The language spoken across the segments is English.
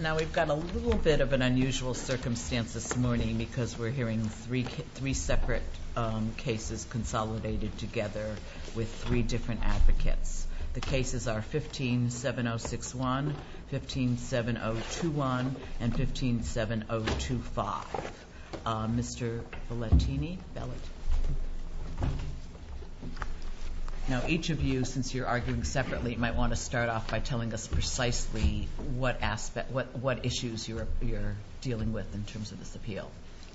Now we've got a little bit of an unusual circumstance this morning because we're hearing three separate cases consolidated together with three different advocates. The cases are 157061, 157021, and 157025. Now each of you, since you're arguing separately, might want to start off by telling us precisely what issues you're dealing with in terms of this appeal.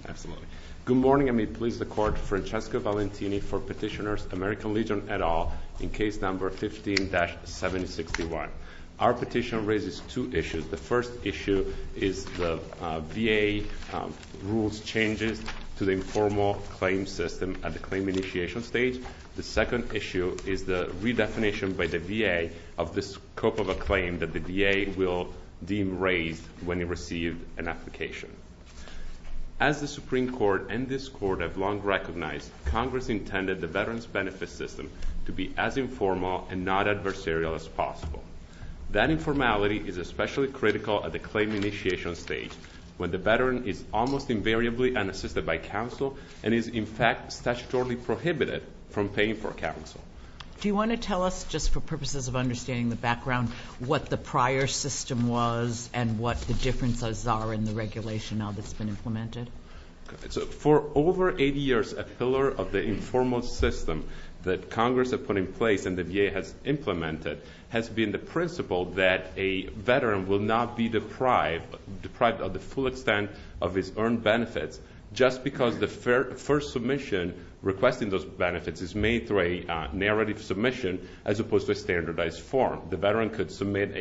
Absolutely. Good morning. I may please the Court. Francesco Valentini for Petitioners, American Legion et al. in case number 15-761. Our petition raises two issues. The first issue is the VA rules changes to the informal claim system at the claim initiation stage. The second issue is the redefinition by the VA of the scope of a claim that the VA will deem raised when it receives an application. As the Supreme Court and this Court have long recognized, Congress intended the Veterans Benefit System to be as informal and not adversarial as possible. That informality is especially critical at the claim initiation stage when the veteran is almost invariably unassisted by counsel and is, in fact, statutorily prohibited from paying for counsel. Do you want to tell us, just for purposes of understanding the background, what the prior system was and what the differences are in the regulation now that it's been implemented? For over 80 years, a pillar of the informal system that Congress has put in place and the VA has implemented has been the principle that a veteran will not be deprived of the full extent of his earned benefits just because the first submission requesting those benefits is made through a narrative submission as opposed to a standardized form. The veteran could submit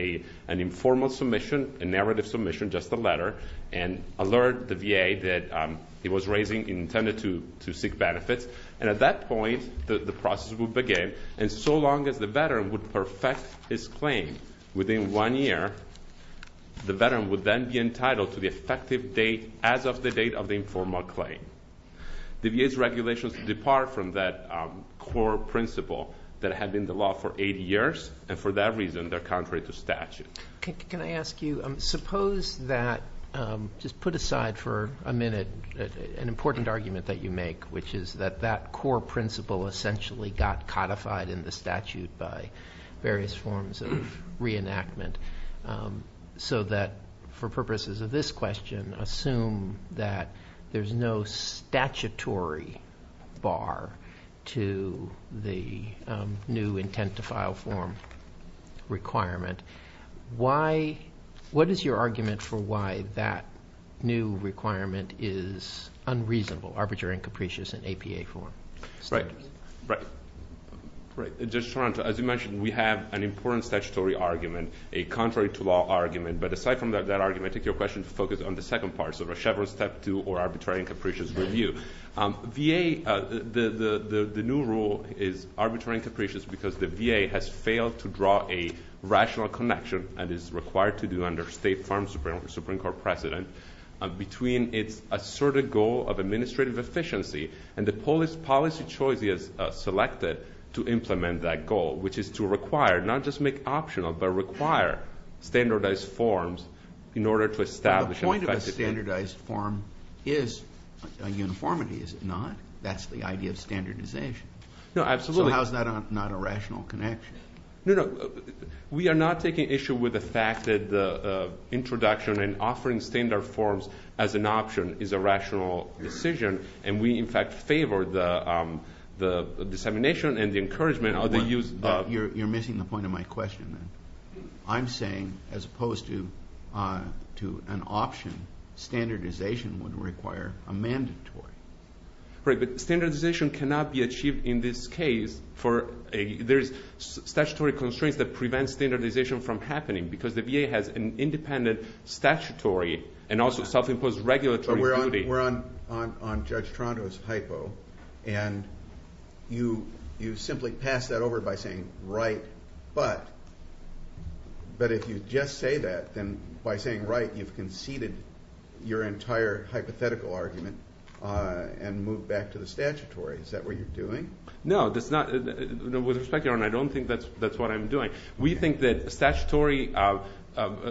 an informal submission, a narrative submission, just a letter, and alert the VA that it was intended to seek benefits. At that point, the process would begin. So long as the veteran would perfect his claim within one year, the veteran would then be entitled to the effective date as of the date of the informal claim. The VA's regulations depart from that core principle that has been the law for 80 years, and for that reason, they're contrary to statute. Can I ask you, suppose that, just put aside for a minute an important argument that you make, which is that that core principle essentially got codified in the statute by various forms of reenactment, so that for purposes of this question, assume that there's no statutory bar to the new intent to file form requirement. What is your argument for why that new requirement is unreasonable, arbitrary and capricious in APA form? Right. As you mentioned, we have an important statutory argument, a contrary-to-law argument, but aside from that argument, I take your question to focus on the second part, so the Chevron Step 2 or arbitrary and capricious review. The new rule is arbitrary and capricious because the VA has failed to draw a rational connection, and is required to do under State Farm Supreme Court precedent, between its asserted goal of administrative efficiency and the policy choice we have selected to implement that goal, which is to require, not just make optional, but require standardized forms in order to establish an effective standard. A standardized form is a uniformity, is it not? That's the idea of standardization. No, absolutely. So how is that not a rational connection? No, no. We are not taking issue with the fact that the introduction and offering standard forms as an option is a rational decision, and we, in fact, favor the dissemination and the encouragement of the use of... would require a mandatory. But standardization cannot be achieved in this case for a... There's statutory constraints that prevent standardization from happening, because the VA has an independent statutory and also self-imposed regulatory duty. We're on Judge Toronto's hypo, and you simply pass that over by saying, But if you just say that, then by saying right, you've conceded your entire hypothetical argument and moved back to the statutory. Is that what you're doing? No, it's not. With respect, Your Honor, I don't think that's what I'm doing. We think that statutory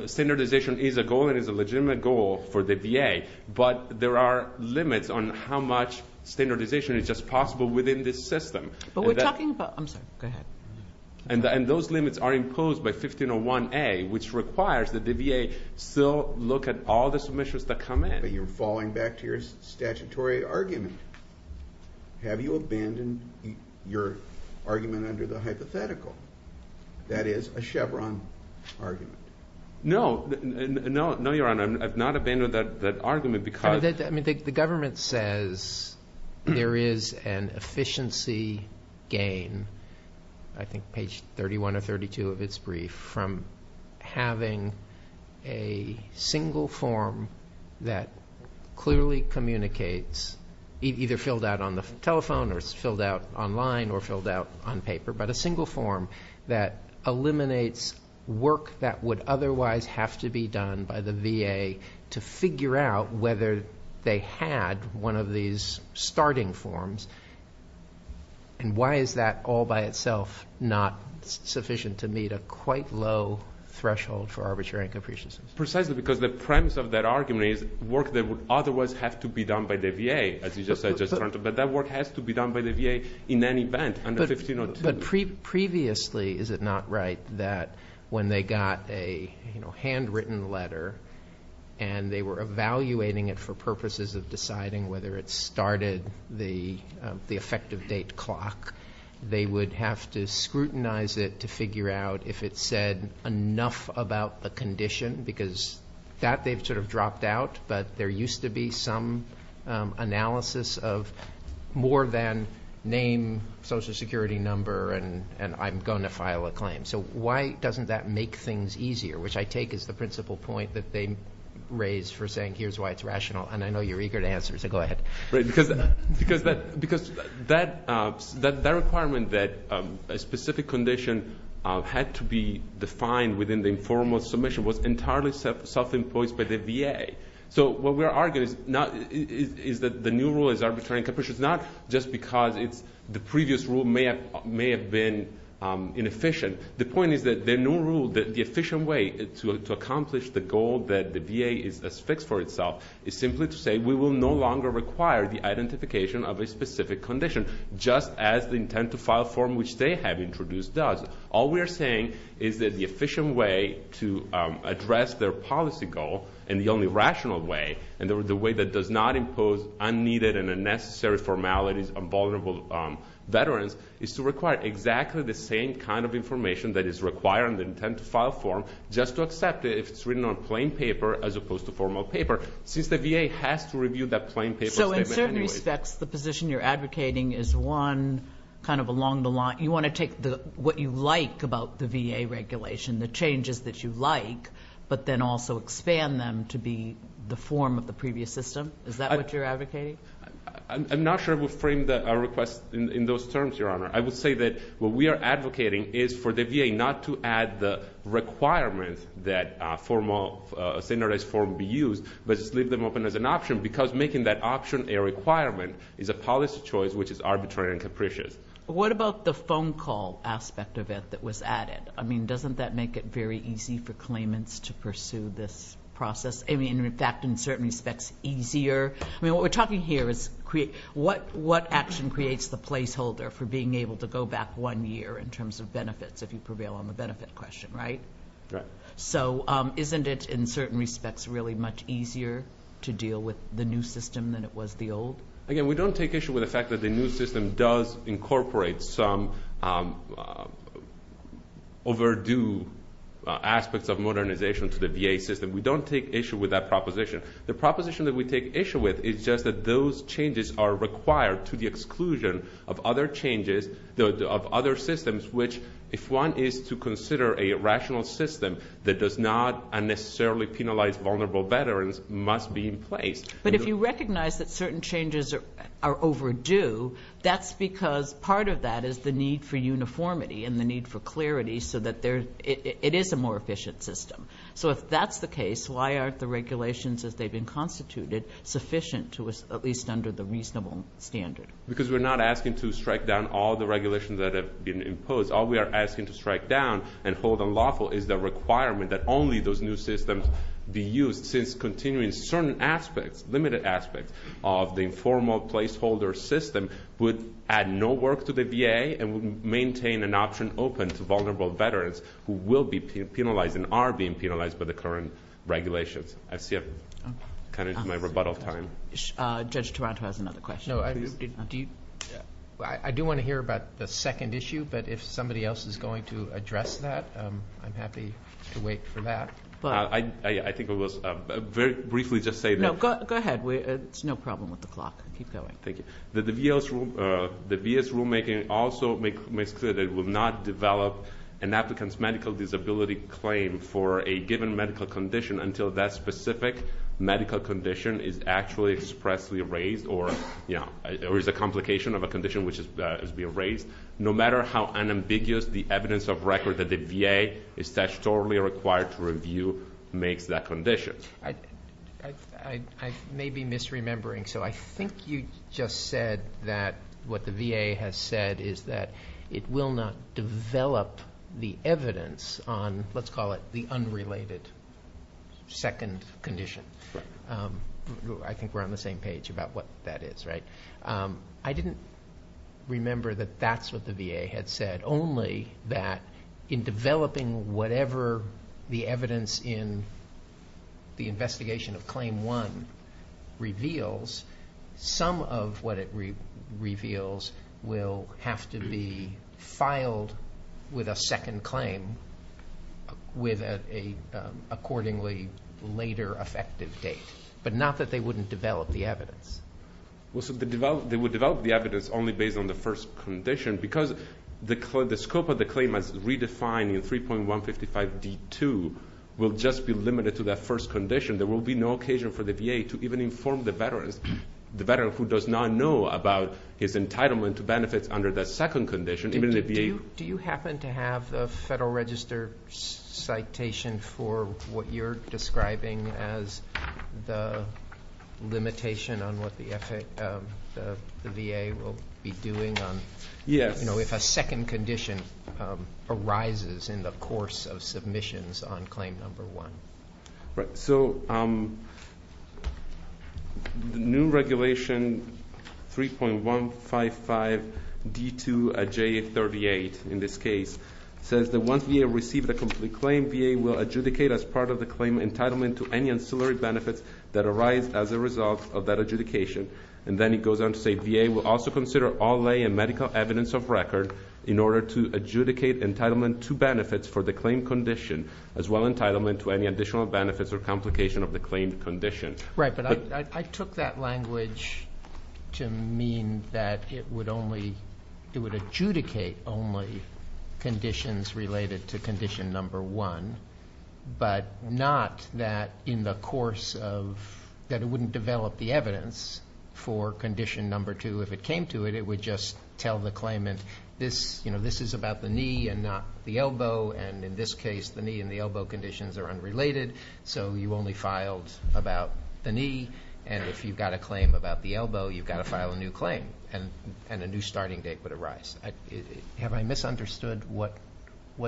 standardization is a goal and is a legitimate goal for the VA, but there are limits on how much standardization is just possible within this system. But we're talking about... I'm sorry. Go ahead. And those limits are imposed by 1501A, which requires that the VA still look at all the submissions that come in. But you're falling back to your statutory argument. Have you abandoned your argument under the hypothetical? That is a Chevron argument. No. No, Your Honor. I have not abandoned that argument because... The government says there is an efficiency gain, I think page 31 or 32 of its brief, from having a single form that clearly communicates, either filled out on the telephone or it's filled out online or filled out on paper, but a single form that eliminates work that would otherwise have to be done by the VA to figure out whether they had one of these starting forms. And why is that all by itself not sufficient to meet a quite low threshold for arbitrary and capriciousness? Precisely because the premise of that argument is work that would otherwise have to be done by the VA, as you just said, but that work has to be done by the VA in any event. But previously, is it not right that when they got a handwritten letter and they were evaluating it for purposes of deciding whether it started the effective date clock, they would have to scrutinize it to figure out if it said enough about a condition, because that they've sort of dropped out, but there used to be some analysis of more than name, social security number, and I'm going to file a claim. So why doesn't that make things easier, which I take as the principal point that they raise for saying here's why it's rational, and I know you're eager to answer, so go ahead. Because that requirement that a specific condition had to be defined within the informal submission was entirely self-imposed by the VA. So what we're arguing is that the new rule is arbitrary and capricious, not just because the previous rule may have been inefficient. The point is that the new rule, the efficient way to accomplish the goal that the VA has fixed for itself, is simply to say we will no longer require the identification of a specific condition, just as the intent-to-file form which they have introduced does. All we are saying is that the efficient way to address their policy goal, and the only rational way, and the way that does not impose unneeded and unnecessary formalities on vulnerable veterans, is to require exactly the same kind of information that is required in the intent-to-file form, just to accept it if it's written on plain paper as opposed to formal paper, since the VA has to review that plain paper anyway. So it certainly sets the position you're advocating as one kind of along the line. You want to take what you like about the VA regulation, the changes that you like, but then also expand them to be the form of the previous system? Is that what you're advocating? I'm not sure I would frame our request in those terms, Your Honor. I would say that what we are advocating is for the VA not to add the requirement that a standardized form be used, but just leave them open as an option, because making that option a requirement is a policy choice which is arbitrary and capricious. What about the phone call aspect of it that was added? I mean, doesn't that make it very easy for claimants to pursue this process? I mean, in fact, in certain respects, easier? I mean, what we're talking here is what action creates the placeholder for being able to go back one year in terms of benefits, if you prevail on the benefit question, right? Right. So isn't it, in certain respects, really much easier to deal with the new system than it was the old? Again, we don't take issue with the fact that the new system does incorporate some overdue aspects of modernization to the VA system. We don't take issue with that proposition. The proposition that we take issue with is just that those changes are required to the exclusion of other systems, which, if one is to consider a rational system that does not unnecessarily penalize vulnerable veterans, must be in place. But if you recognize that certain changes are overdue, that's because part of that is the need for uniformity and the need for clarity so that it is a more efficient system. So if that's the case, why aren't the regulations as they've been constituted sufficient to at least under the reasonable standard? Because we're not asking to strike down all the regulations that have been imposed. All we are asking to strike down and hold unlawful is the requirement that only those new systems be used since continuing certain aspects, limited aspects of the informal placeholder system would add no work to the VA and maintain an option open to vulnerable veterans who will be penalized and are being penalized by the current regulations. I see I've cut into my rebuttal time. Judge Taranto has another question. I do want to hear about the second issue, but if somebody else is going to address that, I'm happy to wait for that. I think it was very briefly just say that... No, go ahead. It's no problem with the clock. Keep going. The VA's rulemaking also makes clear that it will not develop an applicant's medical disability claim for a given medical condition until that specific medical condition is actually expressly raised or there is a complication of a condition which has been raised. No matter how unambiguous the evidence of record that the VA is statutorily required to review makes that condition. I may be misremembering, so I think you just said that what the VA has said is that it will not develop the evidence on, let's call it, the unrelated second condition. I think we're on the same page about what that is, right? I didn't remember that that's what the VA had said, but only that in developing whatever the evidence in the investigation of Claim 1 reveals, some of what it reveals will have to be filed with a second claim with an accordingly later effective date, but not that they wouldn't develop the evidence. They would develop the evidence only based on the first condition because the scope of the claim as we define in 3.165B2 will just be limited to that first condition. There will be no occasion for the VA to even inform the veteran, the veteran who does not know about his entitlement to benefit under that second condition, even the VA. Do you happen to have a Federal Register citation for what you're describing as the limitation on what the VA will be doing on, you know, if a second condition arises in the course of submissions on Claim 1? Right, so the new regulation 3.155B2J38 in this case says that once VA receives a complete claim, VA will adjudicate as part of the claim entitlement to any ancillary benefits that arise as a result of that adjudication. And then it goes on to say VA will also consider all lay and medical evidence of record in order to adjudicate entitlement to benefits for the claim condition as well as entitlement to any additional benefits or complication of the claim condition. Right, but I took that language to mean that it would only, it would adjudicate only conditions related to Condition Number 1, but not that in the course of, that it wouldn't develop the evidence for Condition Number 2. If it came to it, it would just tell the claimant this, you know, this is about the knee and not the elbow, and in this case, the knee and the elbow conditions are unrelated, so you only filed about the knee. And if you've got a claim about the elbow, you've got to file a new claim and a new starting date would arise. Have I misunderstood what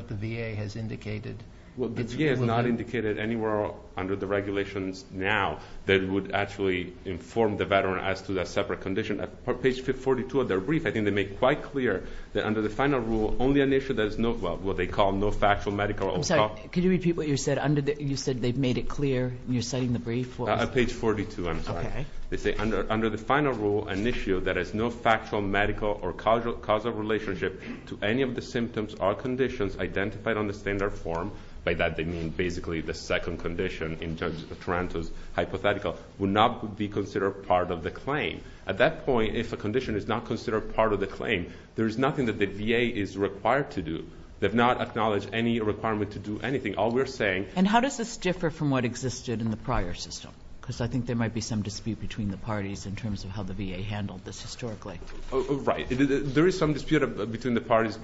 the VA has indicated? Well, the VA has not indicated anywhere under the regulations now that it would actually inform the veteran as to that separate condition. On page 42 of their brief, I think they make it quite clear that under the final rule, only an issue that is not what they call no factual medical or cop. I'm sorry, could you repeat what you said? You said they've made it clear, you're setting the brief for? On page 42, I'm sorry. Okay. They say under the final rule, an issue that has no factual medical or causal relationship to any of the symptoms or conditions identified on the standard form. By that, they mean basically the second condition in terms of Taranto's hypothetical would not be considered part of the claim. At that point, if a condition is not considered part of the claim, there is nothing that the VA is required to do. They've not acknowledged any requirement to do anything. All we're saying – And how does this differ from what existed in the prior system? Because I think there might be some dispute between the parties in terms of how the VA handled this historically. Right. There is some dispute between the parties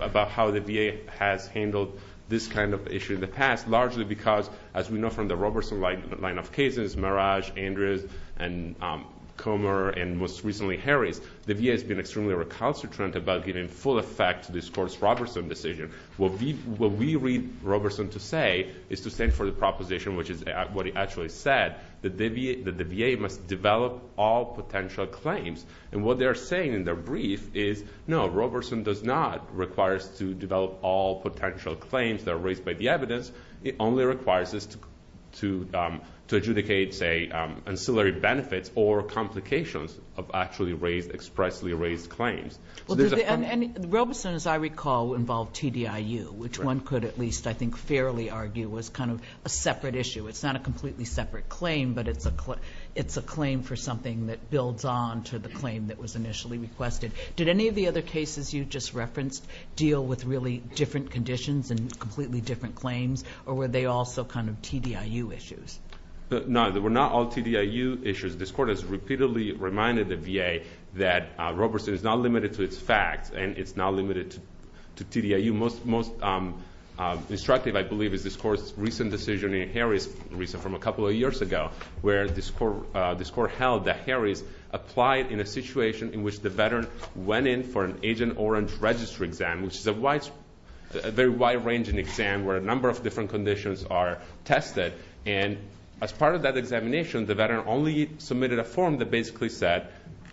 about how the VA has handled this kind of issue in the past, largely because, as we know from the Roberson line of cases, Merage, Andrews, and Comer, and most recently Harris, the VA has been extremely recalcitrant about getting full effect to this course Roberson decision. What we read Roberson to say is to stand for the proposition, which is what he actually said, that the VA must develop all potential claims. What they're saying in their brief is, no, Roberson does not require us to develop all potential claims that are raised by the evidence. It only requires us to adjudicate, say, ancillary benefits or complications of actually expressly raised claims. Roberson, as I recall, involved TDIU, which one could at least I think fairly argue was kind of a separate issue. It's not a completely separate claim, but it's a claim for something that builds on to the claim that was initially requested. Did any of the other cases you just referenced deal with really different conditions and completely different claims, or were they also kind of TDIU issues? No, they were not all TDIU issues. This Court has repeatedly reminded the VA that Roberson is not limited to its facts and it's not limited to TDIU. The most instructive, I believe, is this Court's recent decision in Harris, from a couple of years ago, where this Court held that Harris applied in a situation in which the veteran went in for an Agent Orange registry exam, which is a very wide-ranging exam where a number of different conditions are tested. And as part of that examination, the veteran only submitted a form that basically said,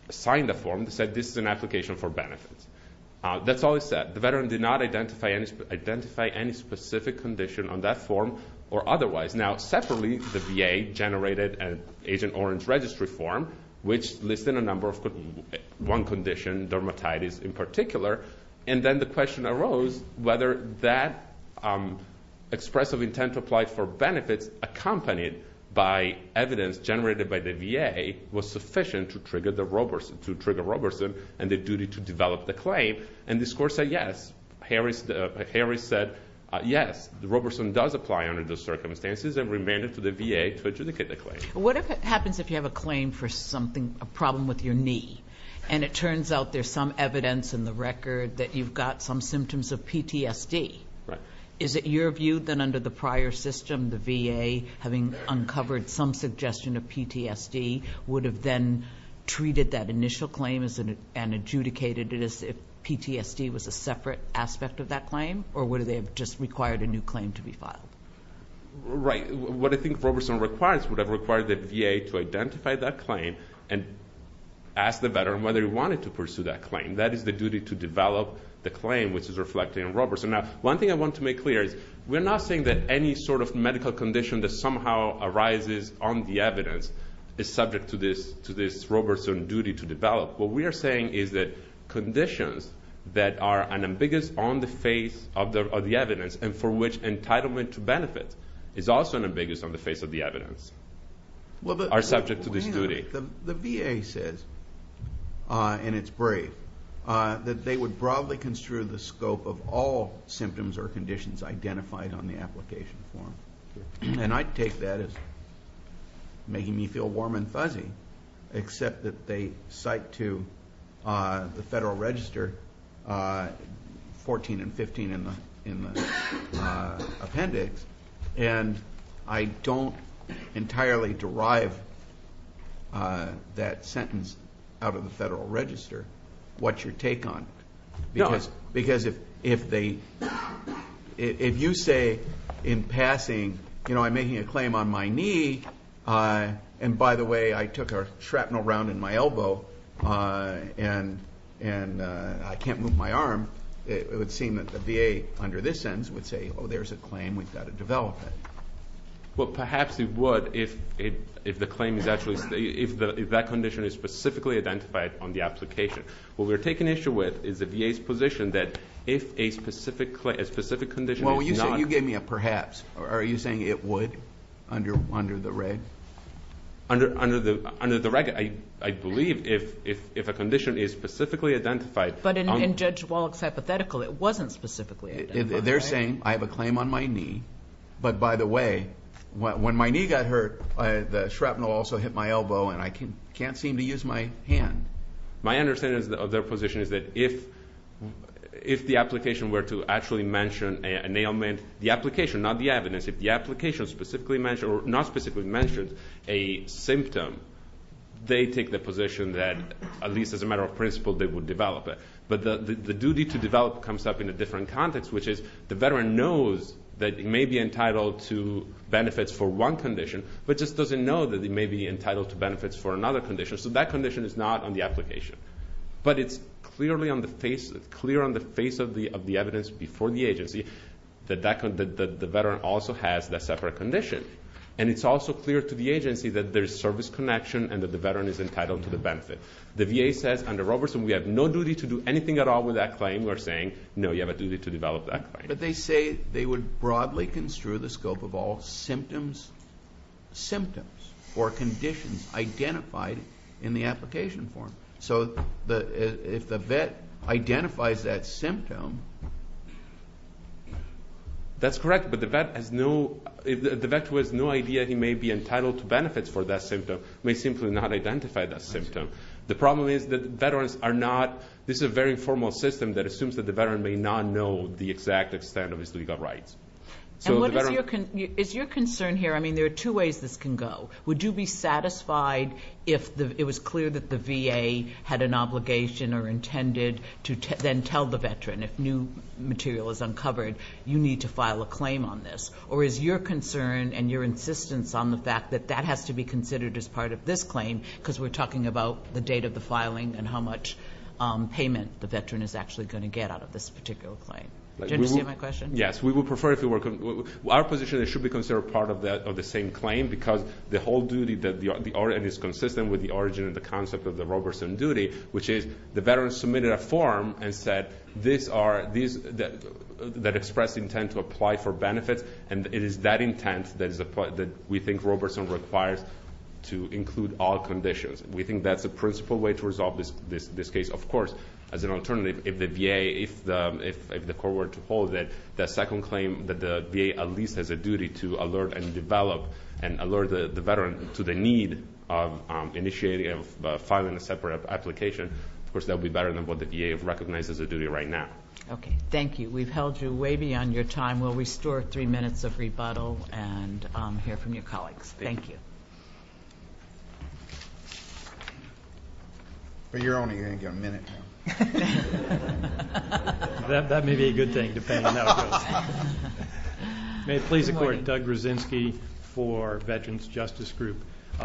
signed the form that said this is an application for benefits. That's all it said. The veteran did not identify any specific condition on that form or otherwise. Now, separately, the VA generated an Agent Orange registry form, which listed a number of conditions, one condition, dermatitis in particular, and then the question arose whether that expressive intent applied for benefits accompanied by evidence generated by the VA was sufficient to trigger Roberson and the duty to develop the claim. And this Court said yes. Harris said yes, Roberson does apply under those circumstances and remained it for the VA to adjudicate the claim. What happens if you have a claim for a problem with your knee and it turns out there's some evidence in the record that you've got some symptoms of PTSD? Is it your view that under the prior system, the VA, having uncovered some suggestion of PTSD, would have then treated that initial claim and adjudicated it as if PTSD was a separate aspect of that claim, or would they have just required a new claim to be filed? Right. What I think Roberson would have required the VA to identify that claim and ask the veteran whether he wanted to pursue that claim. That is the duty to develop the claim, which is reflected in Roberson. Now, one thing I want to make clear is we're not saying that any sort of medical condition that somehow arises on the evidence is subject to this Roberson duty to develop. What we are saying is that conditions that are ambiguous on the face of the evidence and for which entitlement to benefit is also ambiguous on the face of the evidence are subject to this duty. The VA says, and it's brave, that they would broadly construe the scope of all symptoms or conditions identified on the application form. And I take that as making me feel warm and fuzzy, except that they cite to the Federal Register 14 and 15 in the appendix, and I don't entirely derive that sentence out of the Federal Register. What's your take on it? Because if you say in passing, I'm making a claim on my knee, and, by the way, I took a shrapnel round in my elbow and I can't move my arm, it would seem that the VA under this sentence would say, oh, there's a claim we've got to develop. Well, perhaps it would if the claim is actually, if that condition is specifically identified on the application. What we're taking issue with is the VA's position that if a specific condition is not... Under the record, I believe if a condition is specifically identified... But in Judge Wallach's hypothetical, it wasn't specifically identified. They're saying, I have a claim on my knee, but, by the way, when my knee got hurt, the shrapnel also hit my elbow and I can't seem to use my hand. My understanding of their position is that if the application were to actually mention an ailment, the application, not the evidence, if the application specifically mentions, or not specifically mentions a symptom, they take the position that, at least as a matter of principle, they would develop it. But the duty to develop comes up in a different context, which is the veteran knows that he may be entitled to benefits for one condition, but just doesn't know that he may be entitled to benefits for another condition, so that condition is not on the application. But it's clear on the face of the evidence before the agency that the veteran also has a separate condition. And it's also clear to the agency that there's service connection and that the veteran is entitled to the benefit. The VA says, under Robertson, we have no duty to do anything at all with that claim. We're saying, no, you have a duty to develop that claim. But they say they would broadly construe the scope of all symptoms or conditions identified in the application form. So if the vet identifies that symptom... That's correct. But the vet has no idea he may be entitled to benefits for that symptom. He may simply not identify that symptom. The problem is that veterans are not – this is a very formal system that assumes that the veteran may not know the exact extent of his legal rights. And what is your concern here? I mean, there are two ways this can go. Would you be satisfied if it was clear that the VA had an obligation or intended to then tell the veteran, if new material is uncovered, you need to file a claim on this? Or is your concern and your insistence on the fact that that has to be considered as part of this claim because we're talking about the date of the filing and how much payment the veteran is actually going to get out of this particular claim? Did you understand my question? Yes, we would prefer if it were – our position is it should be considered part of the same claim because the whole duty is consistent with the origin of the concept of the Roberson duty, which is the veteran submitted a form that expressed intent to apply for benefits, and it is that intent that we think Roberson requires to include all conditions. We think that's the principal way to resolve this case. Of course, as an alternative, if the VA, if the court were to hold it, that second claim that the VA at least has a duty to alert and develop and alert the veteran to the need of initiating and filing a separate application, of course, that would be better than what the VA recognizes as a duty right now. Okay, thank you. We've held you way beyond your time. We'll restore three minutes of rebuttal and hear from your colleagues. Thank you. For your own hearing, you have a minute. That may be a good thing, depending on how long. May it please the court. Doug Grozinski for Veterans Justice Group.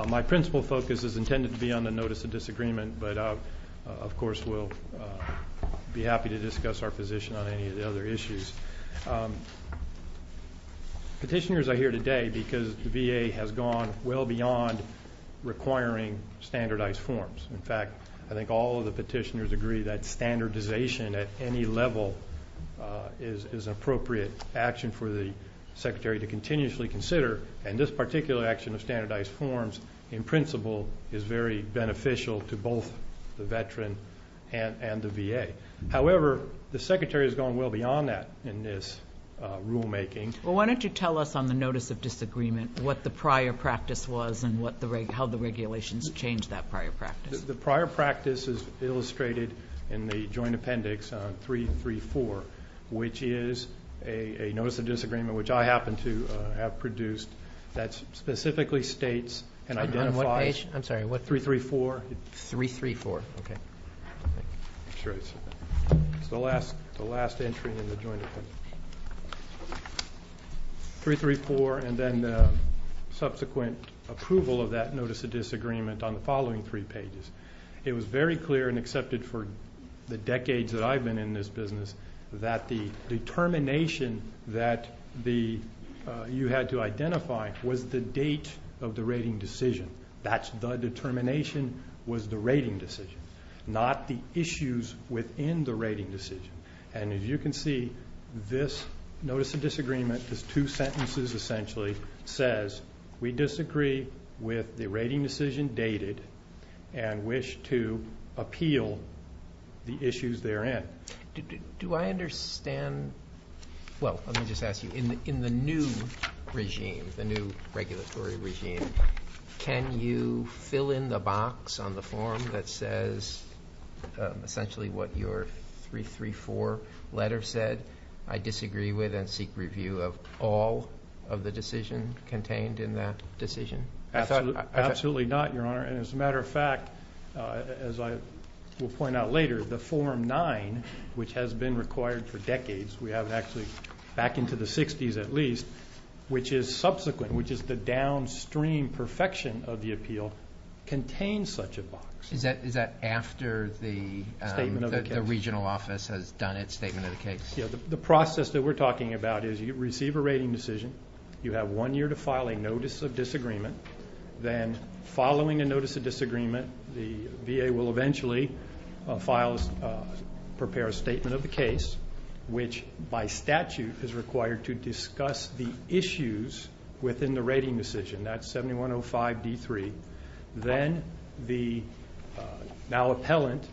My principal focus is intended to be on the notice of disagreement, but of course we'll be happy to discuss our position on any of the other issues. Petitioners are here today because VA has gone well beyond requiring standardized forms. In fact, I think all of the petitioners agree that standardization at any level is an appropriate action for the secretary to continuously consider, and this particular action of standardized forms, in principle, is very beneficial to both the veteran and the VA. However, the secretary has gone well beyond that in this rulemaking. Well, why don't you tell us on the notice of disagreement what the prior practice was and how the regulations changed that prior practice. The prior practice is illustrated in the joint appendix on 334, which is a notice of disagreement, which I happen to have produced, that specifically states and identifies. I'm sorry, what page? 334. 334, okay. It's the last entry in the joint appendix. 334 and then subsequent approval of that notice of disagreement on the following three pages. It was very clear and accepted for the decades that I've been in this business that the determination that you had to identify was the date of the rating decision. That's the determination was the rating decision, not the issues within the rating decision. And as you can see, this notice of disagreement, there's two sentences essentially, says, we disagree with the rating decision dated and wish to appeal the issues therein. Do I understand? Well, let me just ask you, in the new regime, the new regulatory regime, can you fill in the box on the form that says essentially what your 334 letter said, I disagree with and seek review of all of the decision contained in that decision? Absolutely not, Your Honor. And as a matter of fact, as I will point out later, the Form 9, which has been required for decades, we have actually back into the 60s at least, which is subsequent, which is the downstream perfection of the appeal, contains such a box. Is that after the regional office has done its statement of the case? The process that we're talking about is you receive a rating decision. You have one year to file a notice of disagreement. Then following a notice of disagreement, the VA will eventually prepare a statement of the case, which by statute is required to discuss the issues within the rating decision. That's 7105D3. Then the now appellant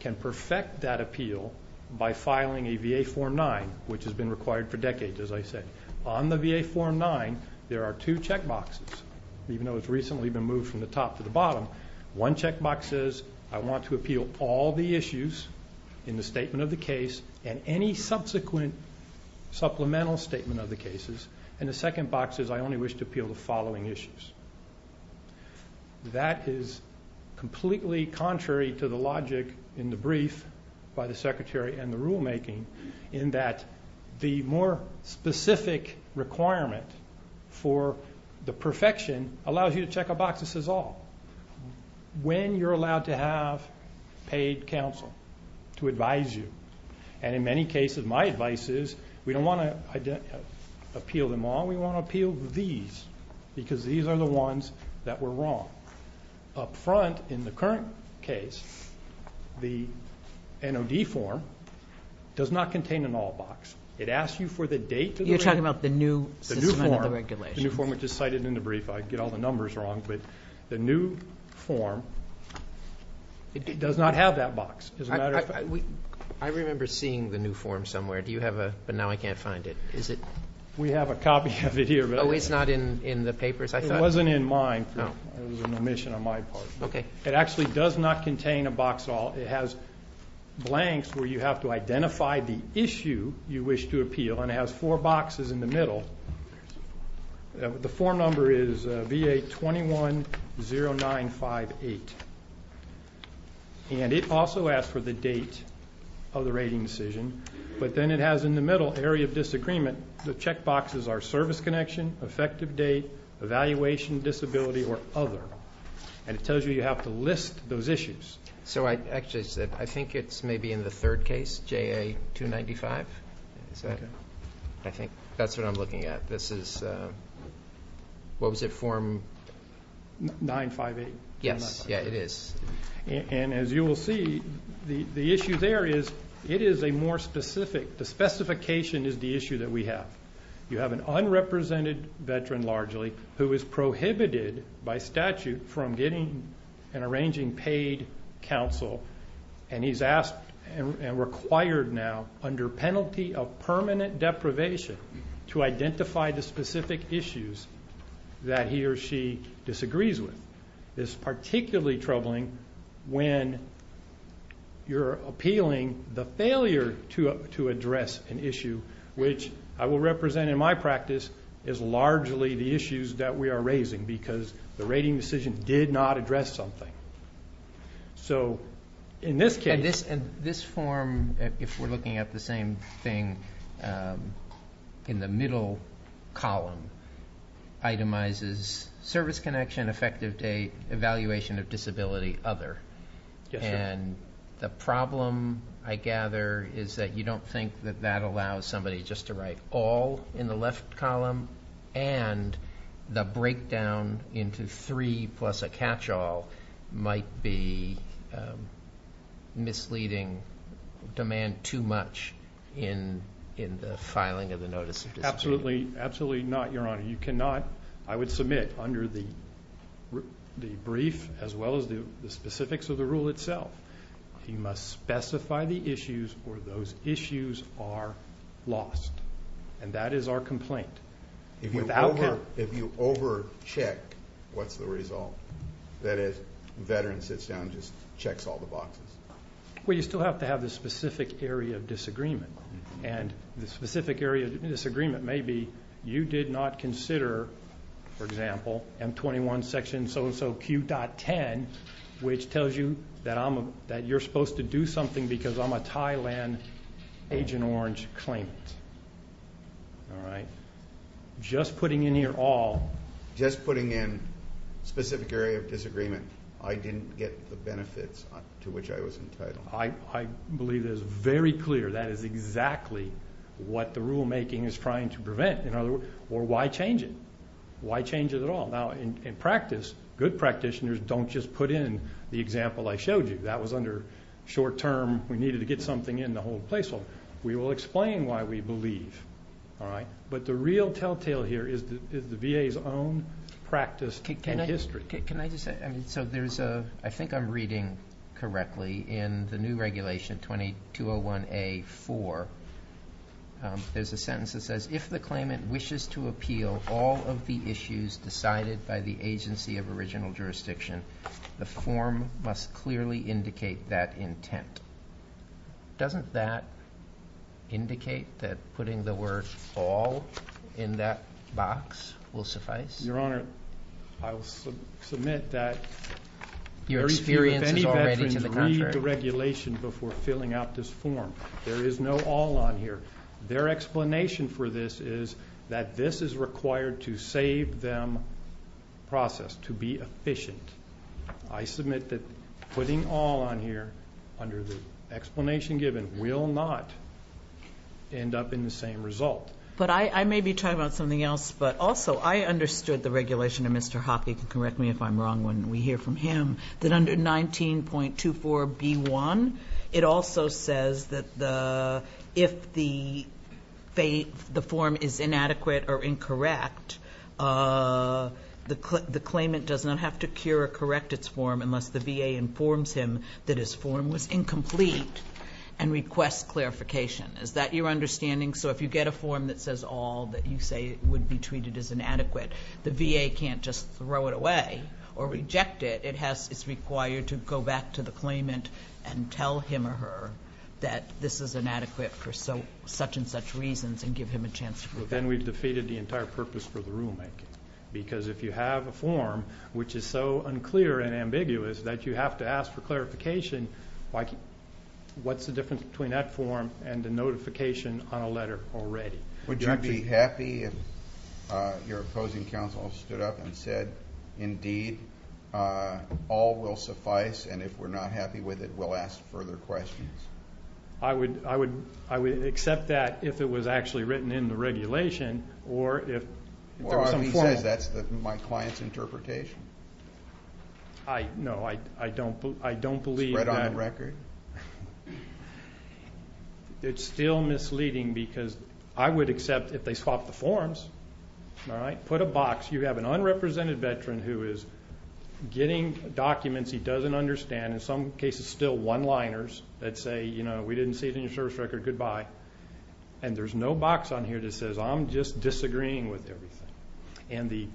can perfect that appeal by filing a VA Form 9, which has been required for decades, as I said. On the VA Form 9, there are two check boxes, even though it's recently been moved from the top to the bottom. One check box says I want to appeal all the issues in the statement of the case and any subsequent supplemental statement of the cases, and the second box says I only wish to appeal the following issues. That is completely contrary to the logic in the brief by the Secretary and the rulemaking in that the more specific requirement for the perfection allows you to check a box that says all. When you're allowed to have paid counsel to advise you, and in many cases my advice is we don't want to appeal them all. We want to appeal these because these are the ones that were wrong. Up front in the current case, the NOV form does not contain an all box. It asks you for the date. You're talking about the new regulation. The new form, which is cited in the brief. I get all the numbers wrong, but the new form does not have that box. I remember seeing the new form somewhere, but now I can't find it. We have a copy of it here. Oh, it's not in the papers? It wasn't in mine. It was an omission on my part. Okay. It actually does not contain a box at all. It has blanks where you have to identify the issue you wish to appeal, and it has four boxes in the middle. The form number is VA-210958, and it also asks for the date of the rating decision, but then it has in the middle area of disagreement. The check boxes are service connection, effective date, evaluation, disability, or other, and it tells you you have to list those issues. So I think it's maybe in the third case, JA-295. I think that's what I'm looking at. This is, what was it, form? 958. Yes, yeah, it is. And as you will see, the issue there is it is a more specific. The specification is the issue that we have. You have an unrepresented veteran, largely, who is prohibited by statute from getting and arranging paid counsel, and he's asked and required now under penalty of permanent deprivation to identify the specific issues that he or she disagrees with. It's particularly troubling when you're appealing the failure to address an issue, which I will represent in my practice as largely the issues that we are raising because the rating decision did not address something. So in this case. And this form, if we're looking at the same thing in the middle column, itemizes service connection, effective date, evaluation of disability, other. And the problem, I gather, is that you don't think that that allows somebody just to write all in the left column and the breakdown into three plus a catch-all might be misleading, demand too much in the filing of the notice of disability. Absolutely not, Your Honor. You cannot. I would submit under the brief, as well as the specifics of the rule itself, you must specify the issues or those issues are lost. And that is our complaint. If you overcheck, what's the result? That is, the veteran sits down and just checks all the boxes. Well, you still have to have the specific area of disagreement. And the specific area of disagreement may be you did not consider, for example, M21 section so-and-so Q.10, which tells you that you're supposed to do something because I'm a Thailand, Agent Orange claimant. All right? Just putting in here all, just putting in specific area of disagreement, I didn't get the benefits to which I was entitled. I believe that is very clear. That is exactly what the rulemaking is trying to prevent. Or why change it? Why change it at all? Now, in practice, good practitioners don't just put in the example I showed you. That was under short-term, we needed to get something in the whole place. We will explain why we believe. All right? But the real telltale here is the VA's own practice and history. Can I just say, I mean, so there's a, I think I'm reading correctly, in the new regulation 2201A.4, there's a sentence that says, if the claimant wishes to appeal all of the issues decided by the agency of original jurisdiction, the form must clearly indicate that intent. Doesn't that indicate that putting the word fall in that box will suffice? Your Honor, I will submit that. Your experience is already in the contract. Read the regulation before filling out this form. There is no all on here. Their explanation for this is that this is required to save them process, to be efficient. I submit that putting all on here under the explanation given will not end up in the same result. But I may be talking about something else, but also I understood the regulation of Mr. Hoppe, correct me if I'm wrong when we hear from him, that under 19.24B1, it also says that if the form is inadequate or incorrect, the claimant does not have to cure or correct its form unless the VA informs him that his form was incomplete and requests clarification. Is that your understanding? So if you get a form that says all that you say would be treated as inadequate, the VA can't just throw it away or reject it. It's required to go back to the claimant and tell him or her that this is inadequate for such and such reasons and give him a chance to prove it. But then we've defeated the entire purpose for the rulemaking. Because if you have a form which is so unclear and ambiguous that you have to ask for clarification, what's the difference between that form and the notification on a letter already? Would you be happy if your opposing counsel stood up and said, indeed, all will suffice, and if we're not happy with it, we'll ask further questions? I would accept that if it was actually written in the regulation or if some form Well, I mean, because that's my client's interpretation. No, I don't believe that. Spread on the record. It's still misleading because I would accept if they swapped the forms. Put a box. You have an unrepresented veteran who is getting documents he doesn't understand, in some cases still one-liners that say, you know, we didn't see it in the insurance record, goodbye. And there's no box on here that says, I'm just disagreeing with everything. And the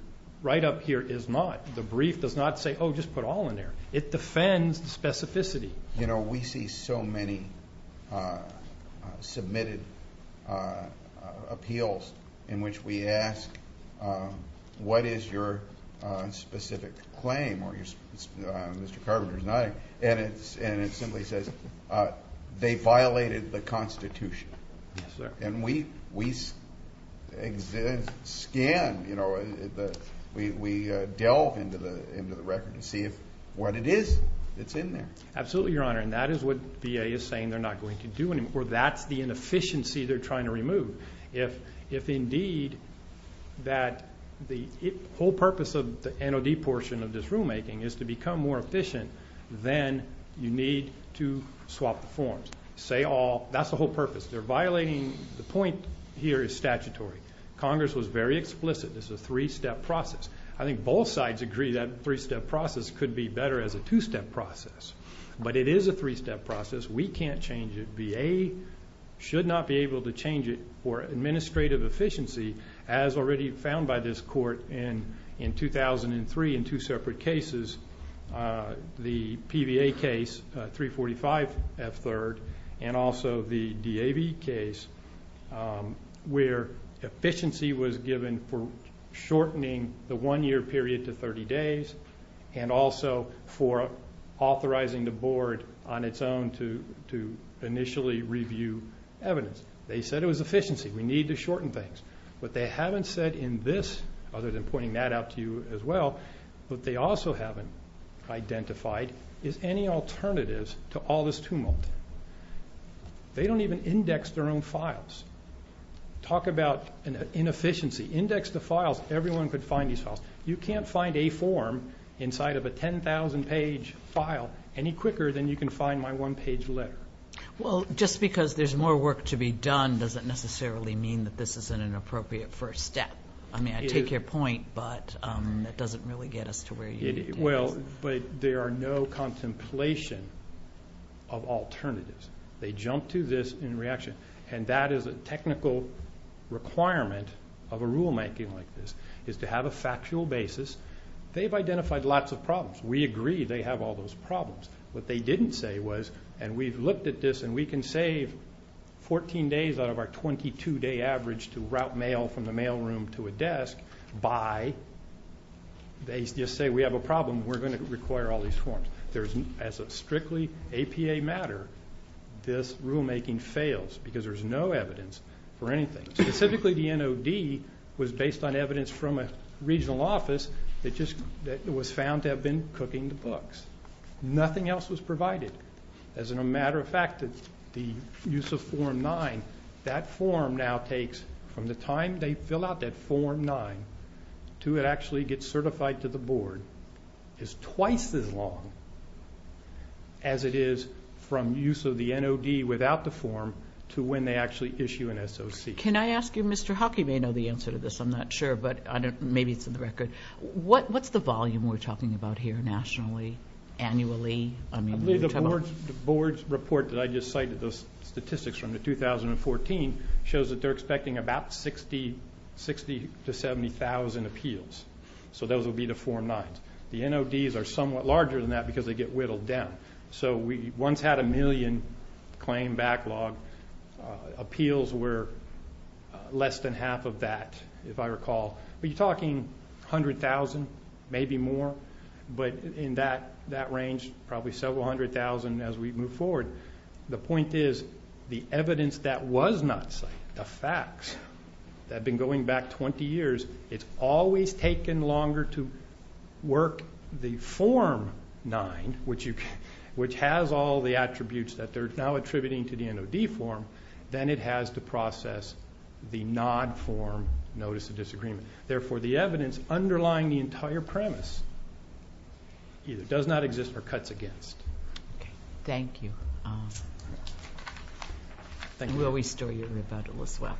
write-up here is not. The brief does not say, oh, just put all in there. It defends specificity. You know, we see so many submitted appeals in which we ask, what is your specific claim, or Mr. Carver's not. And it simply says, they violated the Constitution. And we scan, you know, we delve into the record and see what it is that's in there. Absolutely, Your Honor, and that is what VA is saying they're not going to do anymore. That's the inefficiency they're trying to remove. If indeed that the whole purpose of the NOD portion of this rulemaking is to become more efficient, then you need to swap the forms. Say all. That's the whole purpose. They're violating. The point here is statutory. Congress was very explicit. It's a three-step process. I think both sides agree that a three-step process could be better as a two-step process. But it is a three-step process. We can't change it. VA should not be able to change it for administrative efficiency, as already found by this Court in 2003 in two separate cases, the PVA case, 345 at third, and also the DAB case where efficiency was given for shortening the one-year period to 30 days and also for authorizing the Board on its own to initially review evidence. They said it was efficiency. We need to shorten things. What they haven't said in this, other than pointing that out to you as well, what they also haven't identified is any alternatives to all this tumult. They don't even index their own files. Talk about inefficiency. Index the files. Everyone could find these files. You can't find a form inside of a 10,000-page file any quicker than you can find my one-page letter. Well, just because there's more work to be done doesn't necessarily mean that this isn't an appropriate first step. I mean, I take your point, but that doesn't really get us to where you need to go. Well, but there are no contemplation of alternatives. They jump to this in reaction, and that is a technical requirement of a rulemaking like this is to have a factual basis. They've identified lots of problems. We agree they have all those problems. What they didn't say was, and we've looked at this, and we can save 14 days out of our 22-day average to route mail from the mailroom to a desk by they just say we have a problem. We're going to require all these forms. As a strictly APA matter, this rulemaking fails because there's no evidence for anything. Specifically, the NOD was based on evidence from a regional office. It was found to have been cooking the books. Nothing else was provided. As a matter of fact, it's the use of Form 9. That form now takes, from the time they fill out that Form 9 to it actually gets certified to the board, is twice as long as it is from use of the NOD without the form to when they actually issue an SOC. Can I ask you, Mr. Huck, you may know the answer to this. I'm not sure, but maybe it's in the record. What's the volume we're talking about here nationally, annually? The board's report that I just cited, the statistics from 2014, shows that they're expecting about 60,000 to 70,000 appeals. So those would be the Form 9s. The NODs are somewhat larger than that because they get whittled down. So we once had a million claim backlog. Appeals were less than half of that, if I recall. But you're talking 100,000, maybe more. But in that range, probably several hundred thousand as we move forward. The point is the evidence that was not cited, the facts, have been going back 20 years. It's always taken longer to work the Form 9, which has all the attributes that they're now attributing to the NOD form, than it has to process the NOD form Notice of Disagreement. Therefore, the evidence underlying the entire premise either does not exist or cuts against. Thank you. Thank you. Are we still hearing about it as well?